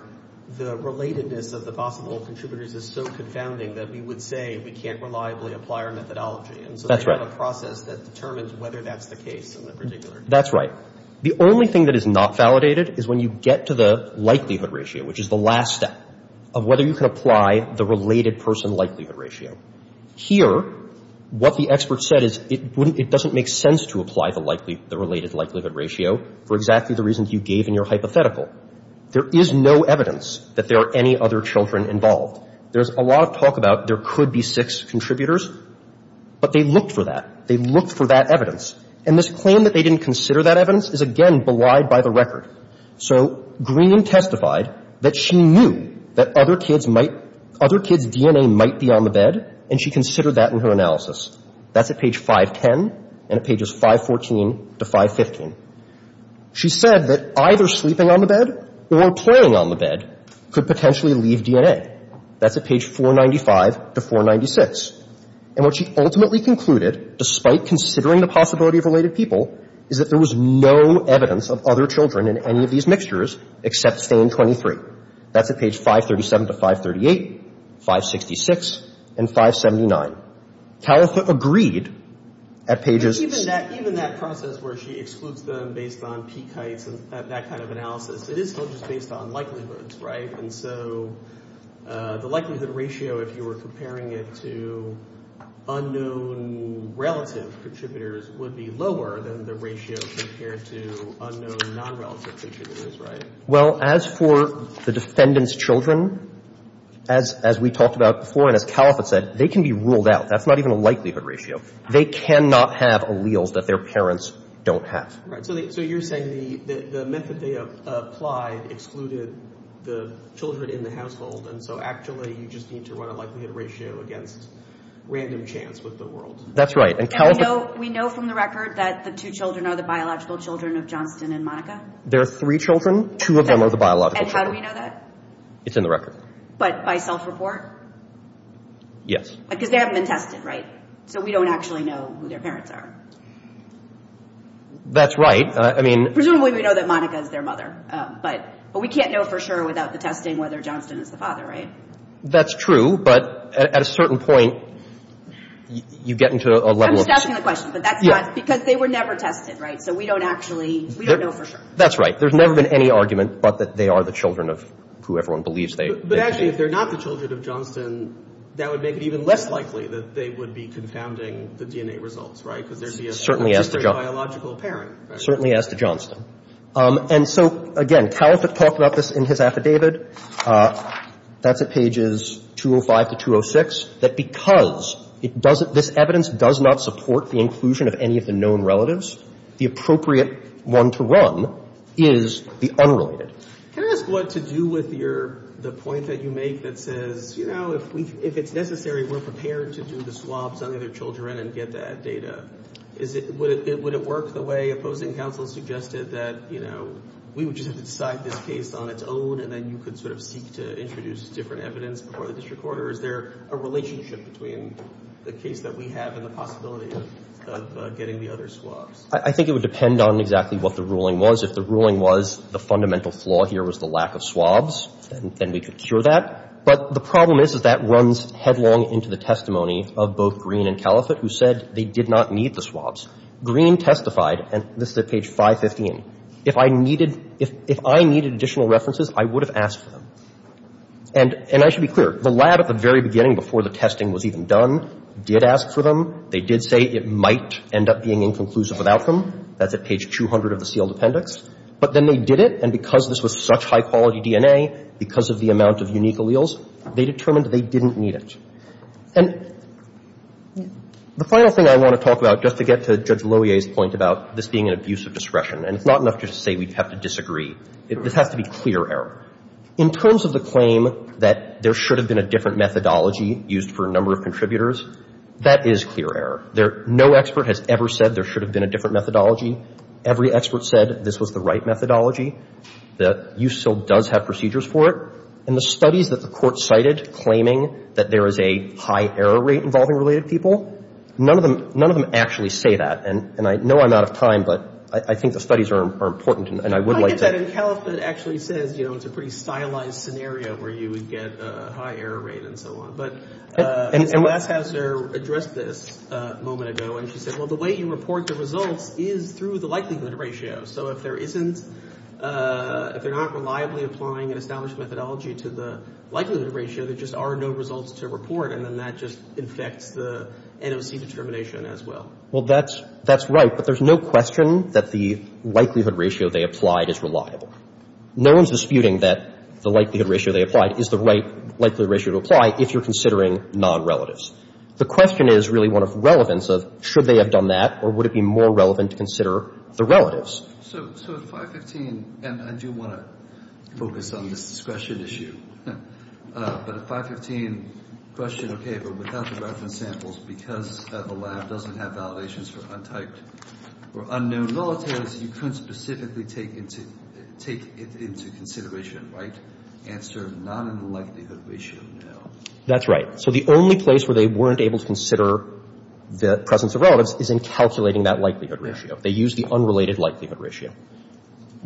the relatedness of the possible contributors is so confounding that we would say we can't reliably apply our methodology. And so they have a process that determines whether that's the case in that particular case. That's right. The only thing that is not validated is when you get to the likelihood ratio, which is the last step of whether you can apply the related person likelihood ratio. Here, what the experts said is it doesn't make sense to apply the related likelihood ratio for exactly the reasons you gave in your hypothetical. There is no evidence that there are any other children involved. There's a lot of talk about there could be six contributors, but they looked for that. They looked for that evidence. And this claim that they didn't consider that evidence is, again, belied by the record. So Green testified that she knew that other kids might — other kids' DNA might be on the bed, and she considered that in her analysis. That's at page 510 and at pages 514 to 515. She said that either sleeping on the bed or playing on the bed could potentially leave DNA. That's at page 495 to 496. And what she ultimately concluded, despite considering the possibility of related people, is that there was no evidence of other children in any of these mixtures except Stain 23. That's at page 537 to 538, 566, and 579. Caliphate agreed at pages — Even that process where she excludes them based on peak heights and that kind of analysis, it is still just based on likelihoods, right? And so the likelihood ratio, if you were comparing it to unknown relative contributors, would be lower than the ratio compared to unknown nonrelative contributors, right? Well, as for the defendant's children, as we talked about before and as Caliphate said, they can be ruled out. That's not even a likelihood ratio. They cannot have alleles that their parents don't have. So you're saying the method they applied excluded the children in the household, and so actually you just need to run a likelihood ratio against random chance with the world. That's right. And we know from the record that the two children are the biological children of Johnston and Monica? There are three children. Two of them are the biological children. And how do we know that? It's in the record. But by self-report? Yes. Because they haven't been tested, right? So we don't actually know who their parents are. That's right. I mean— Presumably we know that Monica is their mother, but we can't know for sure without the testing whether Johnston is the father, right? That's true, but at a certain point you get into a level of— I'm stopping the question, but that's not— Because they were never tested, right? So we don't actually—we don't know for sure. That's right. There's never been any argument but that they are the children of whoever one believes they are. But actually if they're not the children of Johnston, that would make it even less likely that they would be confounding the DNA results, right? Because there'd be a registered biological parent, right? Certainly as to Johnston. And so, again, Talbot talked about this in his affidavit. That's at pages 205 to 206, that because it doesn't — this evidence does not support the inclusion of any of the known relatives, the appropriate one to run is the unrelated. Can I ask what to do with your — the point that you make that says, you know, if it's necessary we're prepared to do the swabs on the other children and get that data? Is it — would it work the way opposing counsel suggested that, you know, we would just have to decide this case on its own and then you could sort of seek to introduce different evidence before the district court? Or is there a relationship between the case that we have and the possibility of getting the other swabs? I think it would depend on exactly what the ruling was. If the ruling was the fundamental flaw here was the lack of swabs, then we could cure that. But the problem is, is that runs headlong into the testimony of both Green and Caliphate who said they did not need the swabs. Green testified, and this is at page 515, if I needed — if I needed additional references, I would have asked for them. And I should be clear, the lab at the very beginning, before the testing was even done, did ask for them. They did say it might end up being inconclusive without them. That's at page 200 of the sealed appendix. But then they did it. And because this was such high-quality DNA, because of the amount of unique alleles, they determined they didn't need it. And the final thing I want to talk about, just to get to Judge Lohier's point about this being an abuse of discretion, and it's not enough just to say we have to disagree. This has to be clear error. In terms of the claim that there should have been a different methodology used for a number of contributors, that is clear error. There — no expert has ever said there should have been a different methodology. Every expert said this was the right methodology, that you still does have procedures for it. And the studies that the Court cited claiming that there is a high error rate involving related people, none of them — none of them actually say that. And I know I'm out of time, but I think the studies are important, and I would like to — Well, I get that in Calif. But it actually says, you know, it's a pretty stylized scenario where you would get a high error rate and so on. But Ms. Glashauser addressed this a moment ago, and she said, well, the way you report the results is through the likelihood ratio. So if there isn't — if they're not reliably applying an established methodology to the likelihood ratio, there just are no results to report, and then that just infects the NOC determination as well. Well, that's — that's right. But there's no question that the likelihood ratio they applied is reliable. No one is disputing that the likelihood ratio they applied is the right likelihood ratio to apply if you're considering non-relatives. The question is really one of relevance of should they have done that, or would it be more relevant to consider the relatives? So at 515 — and I do want to focus on this discretion issue. But at 515, question, okay, but without the reference samples, because the lab doesn't have validations for untyped or unknown volatilities, you couldn't specifically take into — take it into consideration, right? Answer, not in the likelihood ratio, no. That's right. So the only place where they weren't able to consider the presence of relatives is in calculating that likelihood ratio. They used the unrelated likelihood ratio.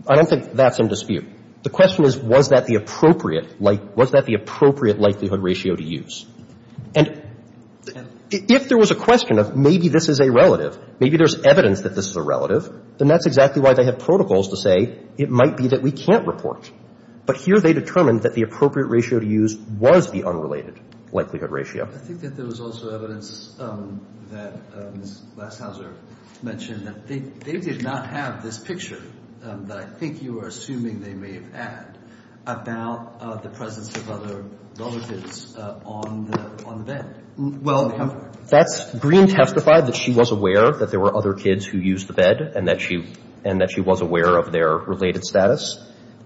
I don't think that's in dispute. The question is, was that the appropriate like — was that the appropriate likelihood ratio to use? And if there was a question of maybe this is a relative, maybe there's evidence that this is a relative, then that's exactly why they have protocols to say it might be that we can't report. But here they determined that the appropriate ratio to use was the unrelated likelihood ratio. I think that there was also evidence that Ms. Glashauser mentioned that they — they did not have this picture that I think you are assuming they may have had about the presence of other relatives on the — on the bed. Well, that's — Green testified that she was aware that there were other kids who used the bed and that she — and that she was aware of their related status.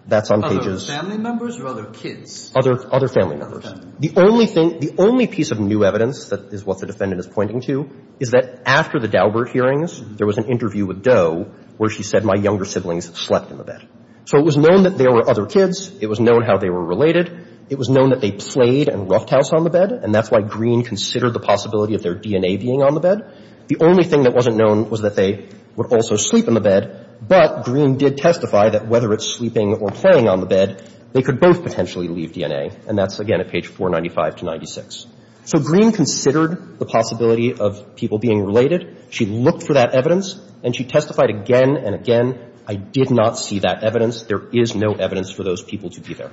That's on pages — Other family members or other kids? Other — other family members. Okay. The only thing — the only piece of new evidence that is what the defendant is pointing to is that after the Daubert hearings, there was an interview with Doe where she said, my younger siblings slept in the bed. So it was known that there were other kids. It was known how they were related. It was known that they played and roughed house on the bed, and that's why Green considered the possibility of their DNA being on the bed. The only thing that wasn't known was that they would also sleep in the bed, but Green did testify that whether it's sleeping or playing on the bed, they could both potentially leave DNA. And that's, again, at page 495 to 96. So Green considered the possibility of people being related. She looked for that evidence, and she testified again and again, I did not see that There is no evidence for those people to be there.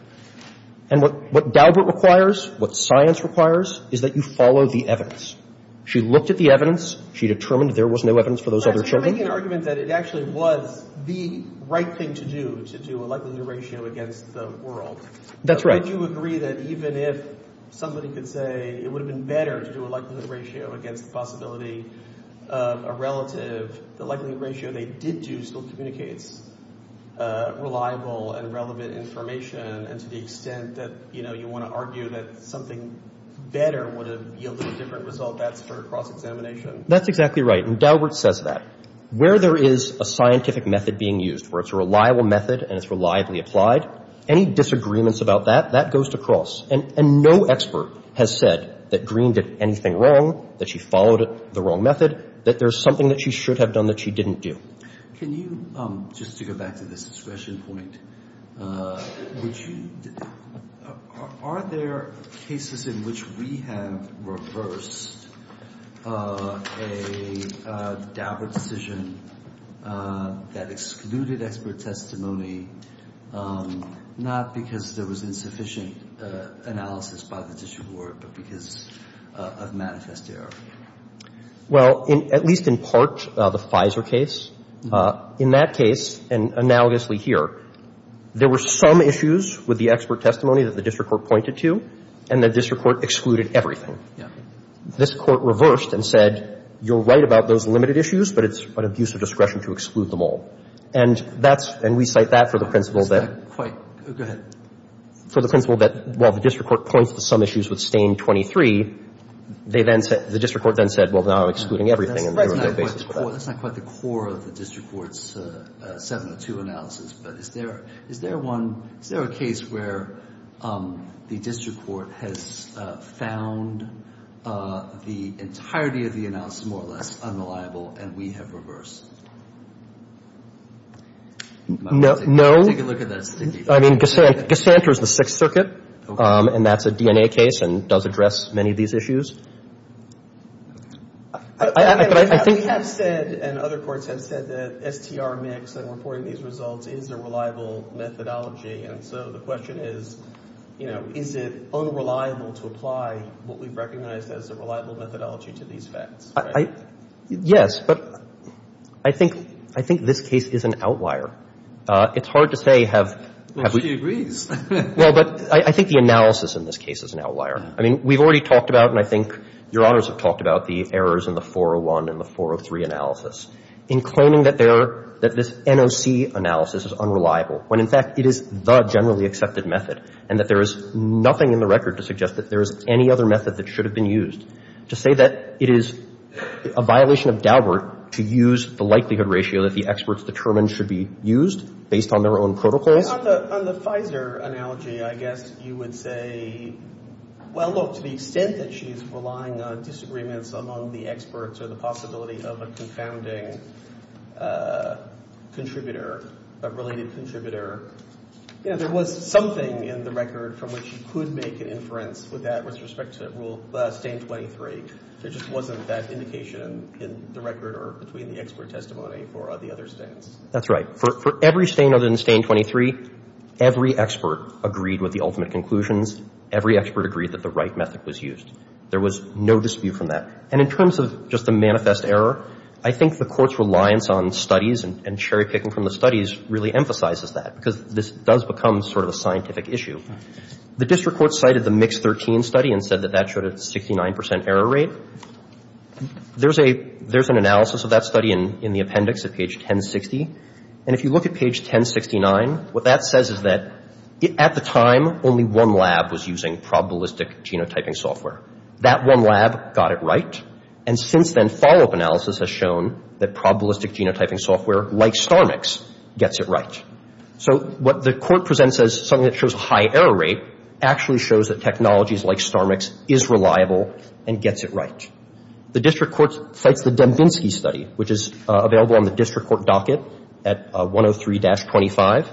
And what — what Daubert requires, what science requires, is that you follow the evidence. She looked at the evidence. She determined there was no evidence for those other children. You're making an argument that it actually was the right thing to do, to do a likelihood ratio against the world. That's right. Would you agree that even if somebody could say it would have been better to do a likelihood ratio against the possibility of a relative, the likelihood ratio they did do still communicates reliable and relevant information, and to the extent that, you know, you want to argue that something better would have yielded a different result, that's for cross-examination? That's exactly right. And Daubert says that. Where there is a scientific method being used, where it's a reliable method and it's reliably applied, any disagreements about that, that goes to cross. And no expert has said that Green did anything wrong, that she followed the wrong method, that there's something that she should have done that she didn't do. Can you, just to go back to this discretion point, would you, are there cases in which we have reversed a Daubert decision that excluded expert testimony, not because there was insufficient analysis by the district court, but because of manifest error? Well, at least in part, the FISA case. In that case, and analogously here, there were some issues with the expert testimony that the district court pointed to, and the district court excluded everything. This Court reversed and said, you're right about those limited issues, but it's an abuse of discretion to exclude them all. And that's, and we cite that for the principle that. Go ahead. For the principle that while the district court points to some issues with Stain 23, they then said, the district court then said, well, now I'm excluding everything. That's not quite the core of the district court's 702 analysis, but is there, is there one, is there a case where the district court has found the entirety of the analysis more or less unreliable, and we have reversed? No. Take a look at that. I mean, Cassandra's the Sixth Circuit, and that's a DNA case and does address many of these issues. I think. We have said, and other courts have said, that STR mix and reporting these results is a reliable methodology, and so the question is, you know, is it unreliable to apply what we've recognized as a reliable methodology to these facts? Yes, but I think, I think this case is an outlier. It's hard to say have we. Well, she agrees. Well, but I think the analysis in this case is an outlier. I mean, we've already talked about, and I think Your Honors have talked about the errors in the 401 and the 403 analysis. In claiming that there, that this NOC analysis is unreliable, when in fact it is the generally accepted method, and that there is nothing in the record to suggest that there is any other method that should have been used. To say that it is a violation of Daubert to use the likelihood ratio that the experts determine should be used based on their own protocols. On the Pfizer analogy, I guess you would say, well, look, to the extent that she's relying on disagreements among the experts or the possibility of a confounding contributor, a related contributor, you know, there was something in the record from which you could make an inference with that with respect to rule, stain 23. There just wasn't that indication in the record or between the expert testimony for the other stains. That's right. For every stain other than stain 23, every expert agreed with the ultimate conclusions. Every expert agreed that the right method was used. There was no dispute from that. And in terms of just the manifest error, I think the Court's reliance on studies and cherry-picking from the studies really emphasizes that, because this does become sort of a scientific issue. The district court cited the Mix 13 study and said that that showed a 69 percent error rate. There's an analysis of that study in the appendix at page 1060. And if you look at page 1069, what that says is that at the time, only one lab was using probabilistic genotyping software. That one lab got it right. And since then, follow-up analysis has shown that probabilistic genotyping software like StarMix gets it right. So what the Court presents as something that shows a high error rate actually shows that technologies like StarMix is reliable and gets it right. The district court cites the Dembinski study, which is available on the district court docket at 103-25.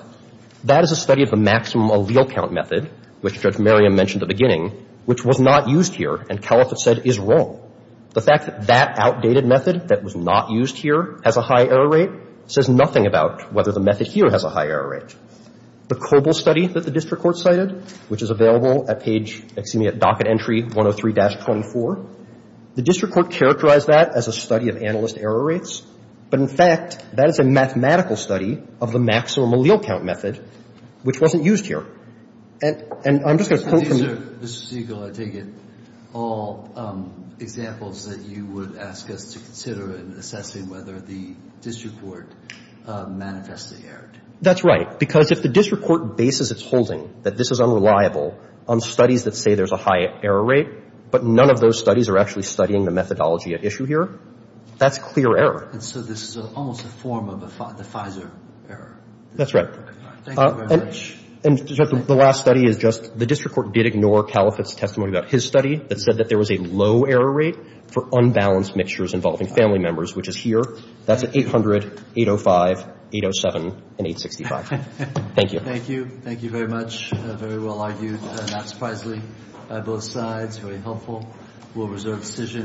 That is a study of the maximum allele count method, which Judge Merriam mentioned at the beginning, which was not used here and Caliphate said is wrong. The fact that that outdated method that was not used here has a high error rate says nothing about whether the method here has a high error rate. The Coble study that the district court cited, which is available at page, excuse me, at docket entry 103-24, the district court characterized that as a study of analyst error rates. But in fact, that is a mathematical study of the maximum allele count method, which wasn't used here. And I'm just going to quote from the — Mr. Siegel, I take it all examples that you would ask us to consider in assessing whether the district court manifestly erred. That's right. Because if the district court bases its holding that this is unreliable on studies that say there's a high error rate, but none of those studies are actually studying the methodology at issue here, that's clear error. And so this is almost a form of the FISA error. That's right. Thank you very much. And the last study is just the district court did ignore Caliphate's testimony about his study that said that there was a low error rate for unbalanced mixtures involving family members, which is here. That's at 800-805-807-865. Thank you. Thank you. Thank you very much. Very well argued, not surprisingly, by both sides. Very helpful. We'll reserve decision.